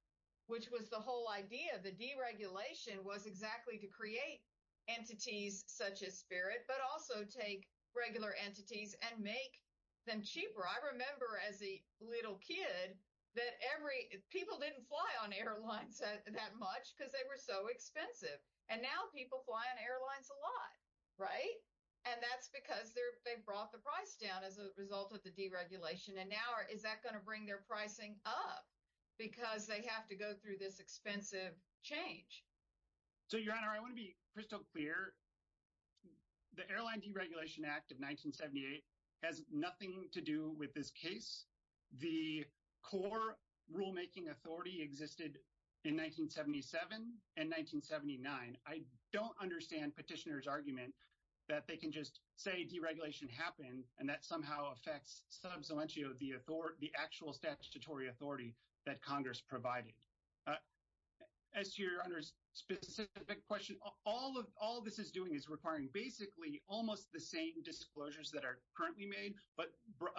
which was the whole idea of the deregulation was exactly to create entities such as Spirit, but also take regular entities and make them cheaper. I remember as a little kid that every, people didn't fly on airlines that much because they were so expensive and now people fly on airlines a lot, right? And that's because they're, they brought the price down as a result of the deregulation. And now is that going to bring their pricing up because they have to go through this expensive change? So your honor, I want to be crystal clear. The airline deregulation act of 1978 has nothing to do with this case. The core rulemaking authority existed in 1977 and 1979. I don't understand petitioner's argument that they can just say deregulation happened and that somehow affects sub salientio, the authority, the actual statutory authority that Congress provided. Uh, as to your honor's specific question, all of, all this is doing is requiring basically almost the same disclosures that are currently made, but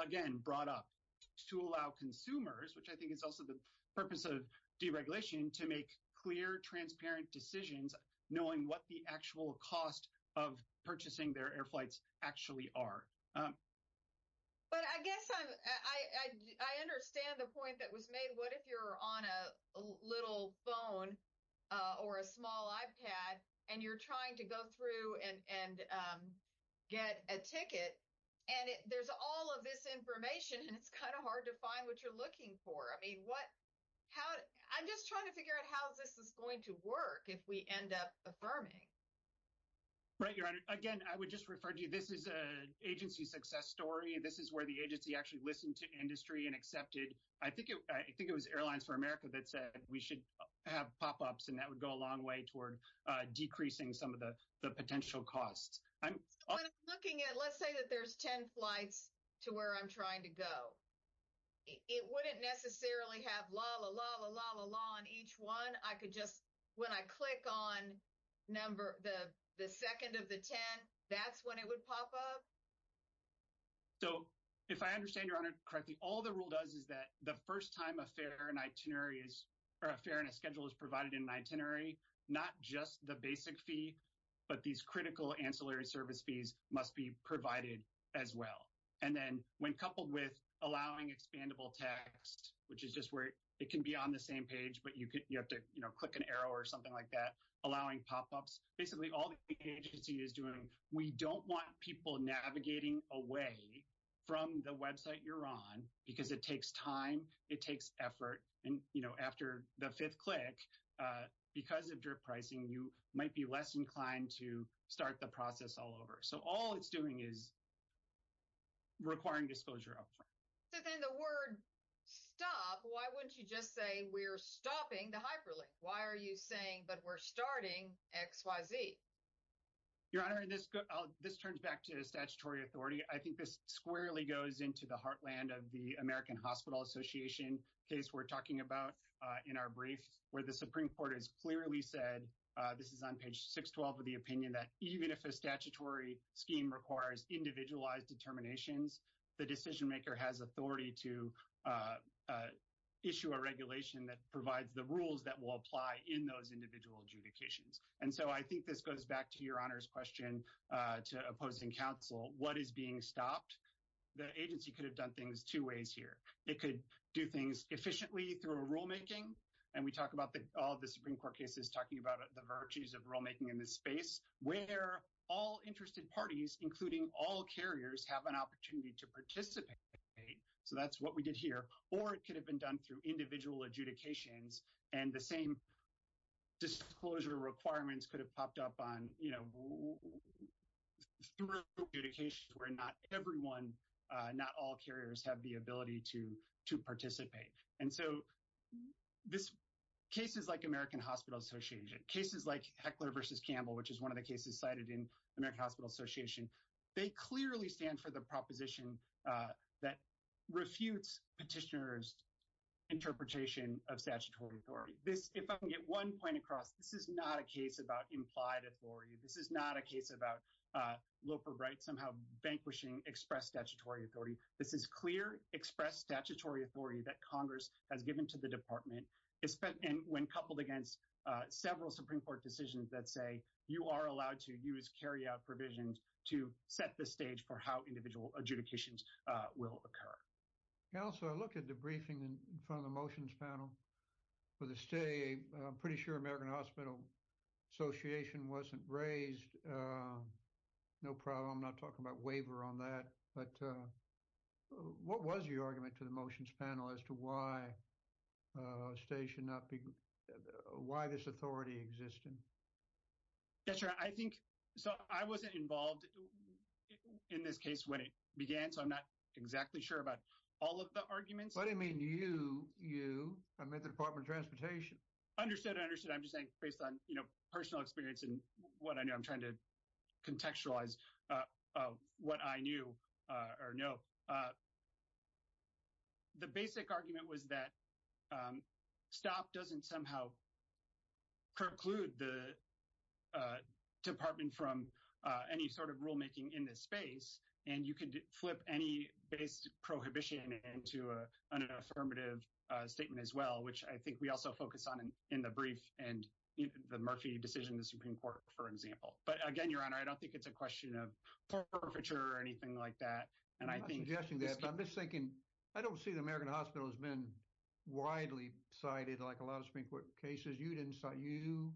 again, brought up to allow consumers, which I think is also the purpose of deregulation to make clear, transparent decisions, knowing what the actual cost of purchasing their air flights actually are. Um, but I guess I, I, I, I understand the point that was made. What if you're on a little phone, uh, or a small iPad and you're trying to go through and, and, um, get a ticket and there's all of this information and it's kind of hard to find what you're looking for. I mean, what, how, I'm just trying to figure out how this is going to work if we end up affirming. Right. Your honor, again, I would just refer to you. This is a agency success story. This is where the agency actually listened to industry and accepted. I think it, I think it was airlines for America that said we should have pop-ups and that would go a long way toward, uh, decreasing some of the, the potential costs. I'm looking at, let's say that there's 10 flights to where I'm trying to go. It wouldn't necessarily have la la la la la la on each one. I could just, when I click on number the, the second of the 10, that's when it would pop up. So if I understand your honor correctly, all the rule does is that the first time a fare and itinerary is, or a fare and a schedule is provided in an itinerary, not just the basic fee, but these critical ancillary service fees must be provided as well. And then when coupled with allowing expandable text, which is just where it can be on the same page, but you could, you have to, click an arrow or something like that, allowing pop-ups. Basically all the agency is doing, we don't want people navigating away from the website you're on because it takes time. It takes effort. And, you know, after the fifth click, uh, because of drip pricing, you might be less inclined to start the process all over. So all it's doing is requiring disclosure upfront. So then the word stop, why wouldn't you just say we're stopping the hyperlink? Why are you saying, but we're starting X, Y, Z. Your honor, this turns back to the statutory authority. I think this squarely goes into the heartland of the American hospital association case. We're talking about, uh, in our briefs where the Supreme court has clearly said, uh, this is on page 6, 12 of the opinion that even if a statutory scheme requires individualized determinations, the decision maker has authority to, uh, uh, issue a regulation that provides the rules that will apply in those individual adjudications. And so I think this goes back to your honor's question, uh, to opposing counsel, what is being stopped? The agency could have done things two ways here. It could do things efficiently through a rulemaking. And we talk about the, all of the Supreme court cases talking about the virtues of rulemaking in this space, where all interested parties, including all carriers have an opportunity to participate. So that's what we did here. Or it could have been done through individual adjudications and the same disclosure requirements could have popped up on, you know, where not everyone, uh, not all carriers have the ability to, to participate. And so this case is like American hospital association cases like heckler versus Campbell, which is one of the cases cited in American hospital association. They clearly stand for the proposition, uh, that refutes petitioners interpretation of statutory authority. This, if I can get one point across, this is not a case about implied authority. This is not a case about, uh, local rights, somehow vanquishing express statutory authority. This is clear express statutory authority that Congress has given to the department is spent in when coupled against, uh, several Supreme court decisions that say you are allowed to use carry out provisions to set the stage for how individual adjudications, uh, will occur. Yeah. So I looked at the briefing in front of the motions panel for the state. I'm pretty sure American hospital association wasn't raised. Uh, no problem. I'm not talking about waiver on that, but, uh, what was your argument to the motions panel as to why, uh, station up, why this authority existed? Yeah, sure. I think, so I wasn't involved in this case when it began. So I'm not exactly sure about all of the arguments. I didn't mean you, you, I meant the department of transportation. I understood. I understood. I'm just saying based on personal experience and what I know, I'm trying to contextualize, uh, uh, what I knew, uh, or no, uh, the basic argument was that, um, stop doesn't somehow preclude the, uh, department from, uh, any sort of rulemaking in this space. And you can flip any base prohibition into a, an affirmative, uh, statement as well, which I think we also focus on in the brief and the Murphy decision to Supreme court, for example. But again, your honor, I don't think it's a question of forfeiture or anything like that. And I think I'm just thinking, I don't see the American hospital has been widely cited like a lot of Supreme court cases. You didn't sign you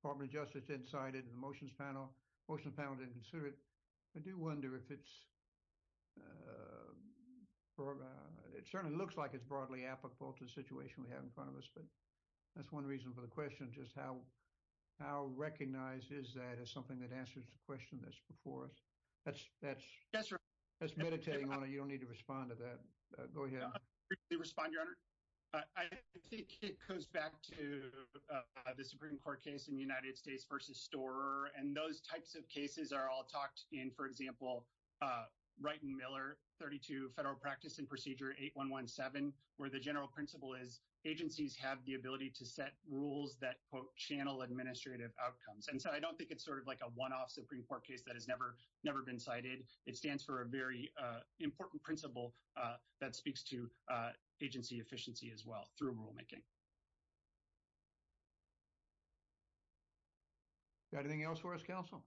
department of justice inside it. And the motions panel, most of the panel didn't consider it. I do wonder if it's, uh, it certainly looks like it's broadly applicable to the situation we have in front of us, but that's one reason for the question, just how, how recognized is that as something that answers the question that's before us. That's, that's, that's meditating on it. You don't need to respond to that. Go ahead. I think it goes back to the Supreme court case in the United States versus store. And those types of cases are all talked in, for example, uh, 32 federal practice and procedure 8, 1, 1, 7, where the general principle is agencies have the ability to set rules that quote channel administrative outcomes. And so I don't think it's sort of like a one-off Supreme court case that has never, never been cited. It stands for a very, uh, important principle, uh, that speaks to, uh, agency efficiency as well through rulemaking. Do you have anything else for us, counsel?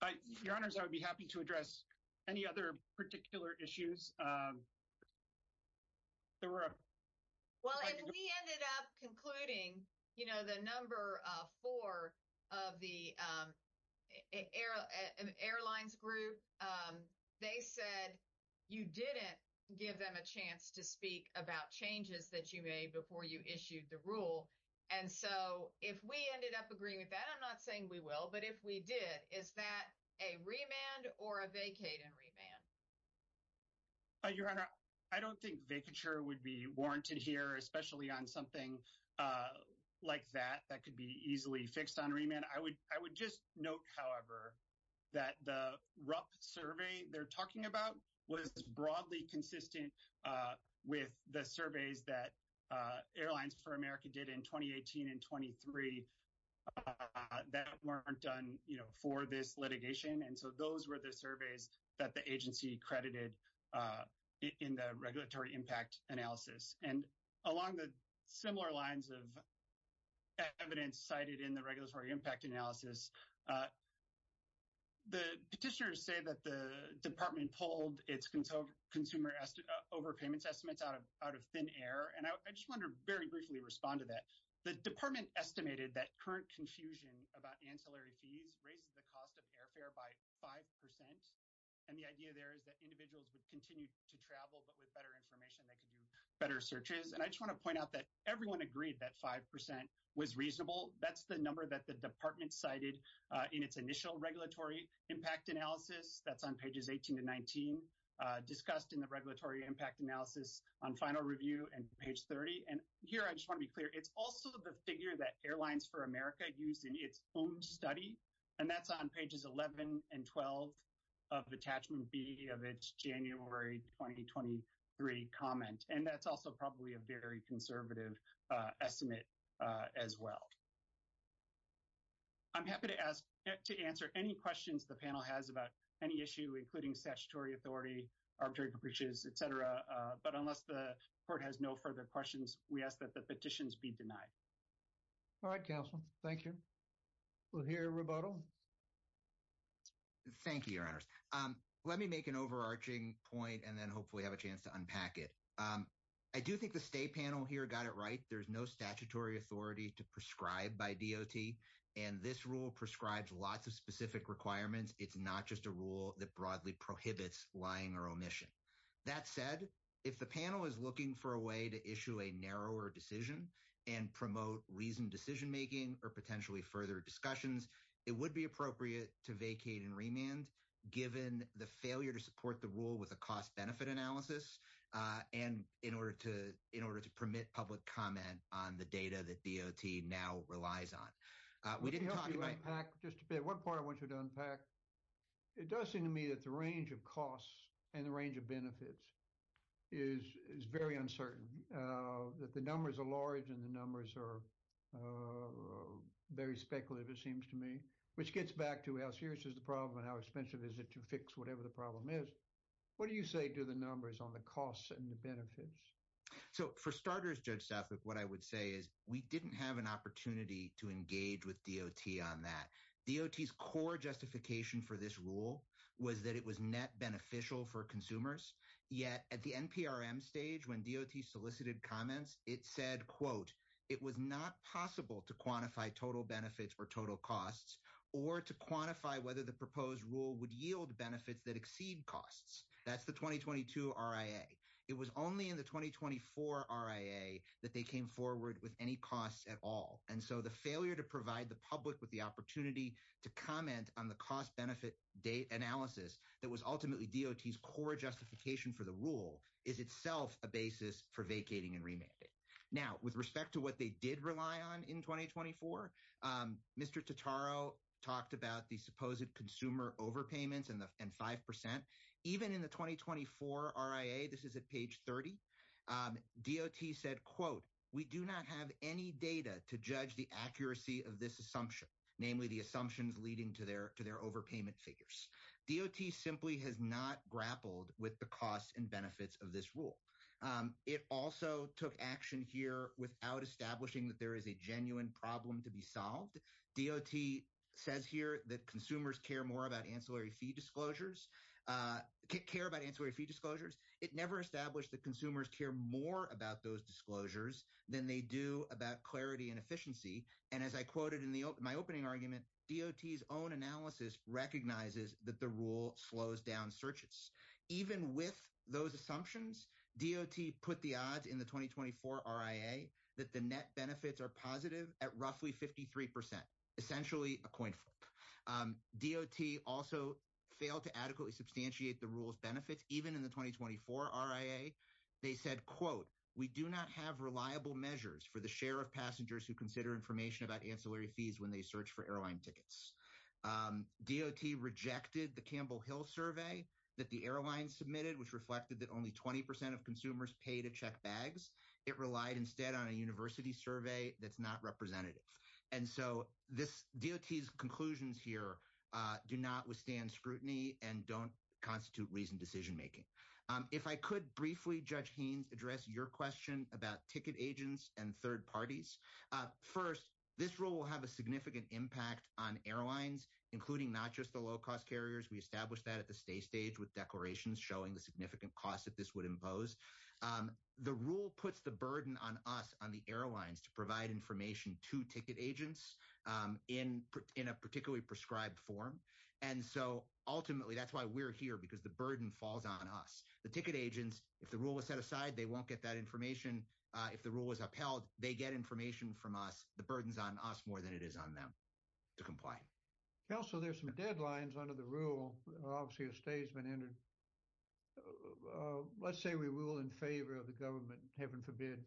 I, your honors, I would be happy to address any other particular issues. Um, there were, well, we ended up concluding, you know, the number, uh, four of the, um, air airlines group. Um, they said you didn't give them a chance to speak about changes that you made before you issued the rule. And so if we ended up agreeing with that, I'm not saying we will, but if we did, is that a remand or a vacate and remand? Your honor, I don't think vacature would be warranted here, especially on something, uh, like that, that could be easily fixed on remand. I would, I would just note, however, that the RUP survey they're talking about was broadly consistent, uh, with the surveys that, uh, airlines for America did in 2018 and 23, uh, that weren't done, you know, for this litigation. And so those were the surveys that the agency credited, uh, in the regulatory impact analysis. And along the similar lines of evidence cited in the regulatory impact analysis, uh, the petitioners say that the department pulled its consumer estimates, uh, overpayments estimates out of, out of thin air. And I just want to very briefly respond to that. The department estimated that current confusion about ancillary fees raises the cost of airfare by 5%. And the idea there is that individuals would continue to travel, but with better information, they could do searches. And I just want to point out that everyone agreed that 5% was reasonable. That's the number that the department cited, uh, in its initial regulatory impact analysis. That's on pages 18 to 19, uh, discussed in the regulatory impact analysis on final review and page 30. And here, I just want to be clear. It's also the figure that Airlines for America used in its own study, and that's on pages 11 and 12 of attachment B of its January 2023 comment. And that's also probably a very conservative, uh, estimate, uh, as well. I'm happy to ask, to answer any questions the panel has about any issue, including statutory authority, arbitrary breaches, et cetera. Uh, but unless the court has no further questions, we ask that the petitions be denied. All right, counsel. Thank you. We'll hear a rebuttal. Thank you, your honors. Um, let me make an overarching point and then hopefully have a discussion. I do think the state panel here got it right. There's no statutory authority to prescribe by DOT, and this rule prescribes lots of specific requirements. It's not just a rule that broadly prohibits lying or omission. That said, if the panel is looking for a way to issue a narrower decision and promote reasoned decision-making or potentially further discussions, it would be appropriate to vacate and remand, given the failure to support the rule with a cost-benefit analysis, uh, and in order to, in order to permit public comment on the data that DOT now relies on. Uh, we didn't talk about... Let me help you unpack just a bit. One part I want you to unpack. It does seem to me that the range of costs and the range of benefits is, is very uncertain, uh, that the numbers are large and the numbers are, uh, very speculative, it seems to me, which gets back to how serious is the problem and how expensive is it to fix whatever the problem is. What do you say to the numbers on the costs and the benefits? So, for starters, Judge Stafford, what I would say is we didn't have an opportunity to engage with DOT on that. DOT's core justification for this rule was that it was net beneficial for consumers, yet at the NPRM stage, when DOT solicited comments, it said, quote, it was not possible to quantify total benefits or total costs or to quantify whether the proposed rule would yield benefits that exceed costs. That's the 2022 RIA. It was only in the 2024 RIA that they came forward with any costs at all, and so the failure to provide the public with the opportunity to comment on the cost-benefit date analysis that was ultimately DOT's core justification for the rule is itself a basis for vacating and remanding. Now, with respect to what they did rely on in 2024, Mr. Totaro talked about the supposed consumer overpayments and 5%. Even in the 2024 RIA, this is at page 30, DOT said, quote, we do not have any data to judge the accuracy of this assumption, namely the assumptions leading to their overpayment figures. DOT simply has not grappled with the costs and benefits of this rule. It also took action here without establishing that there is a genuine problem to be solved. DOT says here that consumers care more about ancillary fee disclosures, care about ancillary fee disclosures. It never established that consumers care more about those disclosures than they do about clarity and efficiency, and as I quoted in my opening argument, DOT's own analysis recognizes that the rule slows down searches. Even with those assumptions, DOT put the odds in the 2024 RIA that the net benefits are positive at roughly 53%, essentially a coin flip. DOT also failed to adequately substantiate the rule's benefits. Even in the 2024 RIA, they said, quote, we do not have reliable measures for the share of passengers who consider information about ancillary fees when they search for airline tickets. DOT rejected the Campbell Hill survey that the airline submitted, which reflected that only 20% of consumers pay to check bags. It relied instead on a university survey that's not representative, and so DOT's conclusions here do not withstand scrutiny and don't constitute reasoned decision making. If I could briefly, Judge Haines, address your question about ticket agents and third parties. First, this rule will have a significant impact on airlines, including not just the low-cost carriers. We established that at the stay stage with declarations showing the significant costs that this would impose. The rule puts the burden on us, on the airlines, to provide information to ticket agents in a particularly prescribed form, and so ultimately that's why we're here, because the burden falls on us. The ticket agents, if the rule is set aside, they won't get that information. If the rule is upheld, they get information from us. The burden's on us more than it is on them to comply. Counsel, there's some deadlines under the rule. Obviously, a stay's been entered. Let's say we rule in favor of the government, heaven forbid,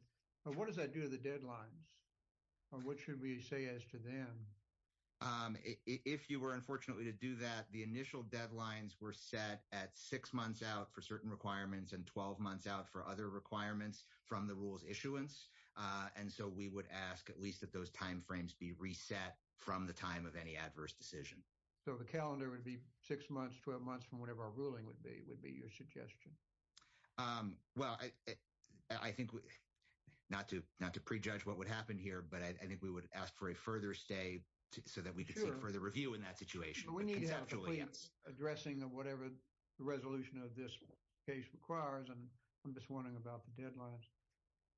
but what does that do to the deadlines, or what should we say as to them? If you were, unfortunately, to do that, initial deadlines were set at six months out for certain requirements and 12 months out for other requirements from the rule's issuance, and so we would ask at least that those timeframes be reset from the time of any adverse decision. So, the calendar would be six months, 12 months from whenever our ruling would be, would be your suggestion? Well, I think, not to prejudge what would happen here, but I think we would ask for a further stay so that we could further review in that situation. But we need to have a complete addressing of whatever the resolution of this case requires, and I'm just wondering about the deadlines.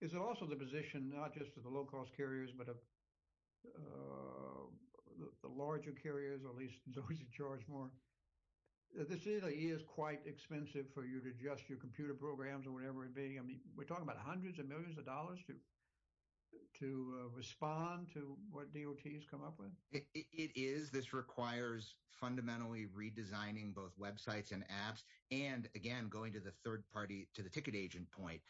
Is it also the position, not just of the low-cost carriers, but of the larger carriers, or at least those who charge more? This really is quite expensive for you to adjust your computer programs or whatever it be. I mean, we're talking about hundreds of millions of dollars to respond to what DOT has come up with. It is. This requires fundamentally redesigning both websites and apps and, again, going to the third party, to the ticket agent point.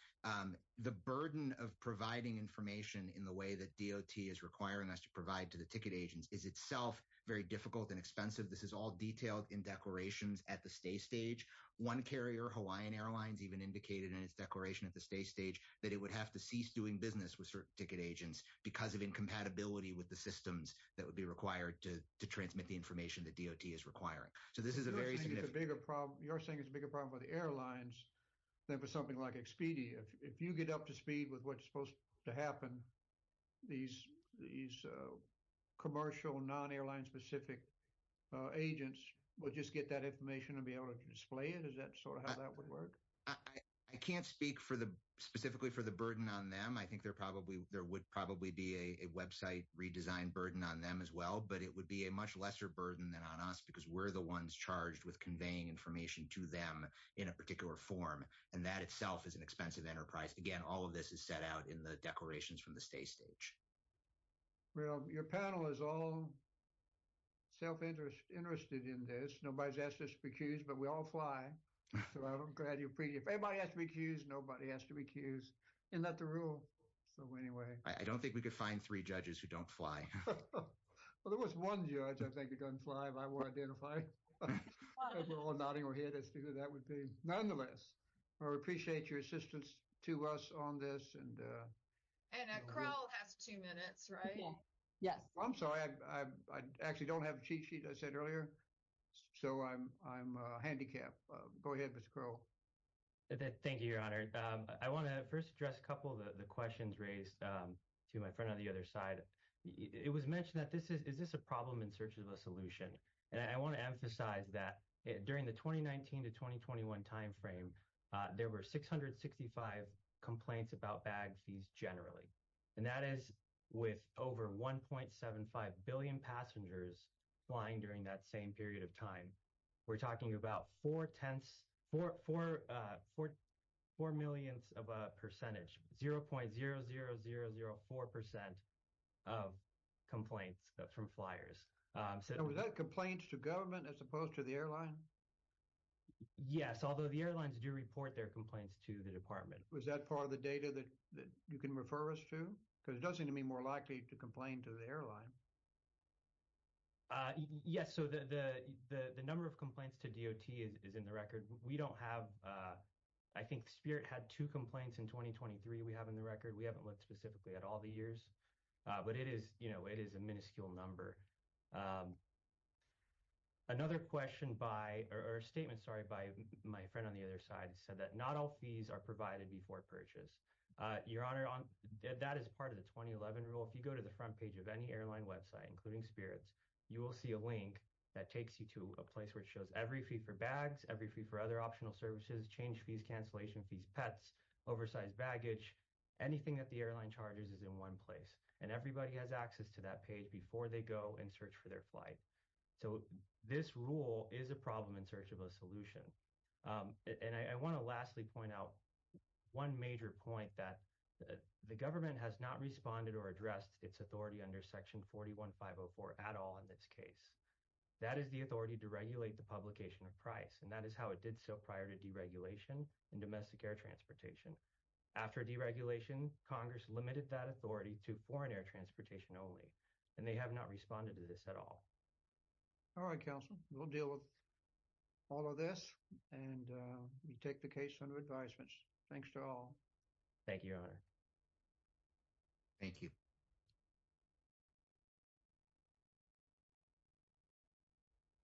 The burden of providing information in the way that DOT is requiring us to provide to the ticket agents is itself very difficult and expensive. This is all detailed in declarations at the stay stage. One carrier, Hawaiian Airlines, even indicated in its declaration at the stay stage that it would have to cease doing business with certain ticket agents because of incompatibility with the systems that would be required to transmit the information that DOT is requiring. So, this is a very significant... You're saying it's a bigger problem for the airlines than for something like Expedia. If you get up to speed with what's supposed to happen, these commercial, non-airline-specific agents will just get that information and be able to display it? Is that sort of how that would work? I can't speak specifically for the burden on them. I think there would probably be a website redesign burden on them as well, but it would be a much lesser burden than on us because we're the ones charged with conveying information to them in a particular form, and that itself is an expensive enterprise. Again, all of this is set out in the declarations from the stay stage. Well, your panel is all self-interested in this. Nobody's asked us to be accused, but we all fly. So, I'm glad you appreciate it. If anybody has to be accused, nobody has to be accused. Isn't that the rule? So, anyway. I don't think we could find three judges who don't fly. Well, there was one judge I think who doesn't fly, but I won't identify. We're all nodding our head as to who that would be. Nonetheless, I appreciate your assistance to us on this. And Crowell has two minutes, right? Yes. I'm sorry. I actually don't have a cheat I said earlier. So, I'm handicapped. Go ahead, Mr. Crowell. Thank you, Your Honor. I want to first address a couple of the questions raised to my friend on the other side. It was mentioned that is this a problem in search of a solution? And I want to emphasize that during the 2019 to 2021 time frame, there were 665 complaints about bag fees generally, and that is with over 1.75 billion passengers flying during that same period of time. We're talking about four millionths of a percentage, 0.00004% of complaints from flyers. So, was that complaints to government as opposed to the airline? Yes, although the airlines do report their complaints to the department. Was that part of the data that you can refer us to? Because it does seem to me more likely to complain to the airline. Yes. So, the number of complaints to DOT is in the record. We don't have, I think Spirit had two complaints in 2023 we have in the record. We haven't looked specifically at all the years. But it is, you know, it is a minuscule number. Another question by or statement, sorry, by my friend on the other side said that not all fees are provided before purchase. Your Honor, that is part of the 2011 rule. If you go to the front page of any airline website, including Spirit's, you will see a link that takes you to a place which shows every fee for bags, every fee for other optional services, change fees, cancellation fees, pets, oversized baggage, anything that the airline charges is in one place. And everybody has access to that page before they go and search for their flight. So, this rule is a problem in search of a solution. And I want to lastly point out one major point that the government has not responded or addressed its authority under section 41504 at all in this case. That is the authority to regulate the publication of price. And that is how it did so prior to deregulation in domestic air transportation. After deregulation, Congress limited that authority to foreign air transportation only. And they have not responded to this at all. All right, counsel, we'll deal with all of this. And we take the case under advisement. Thanks to all. Thank you, Your Honor. Thank you.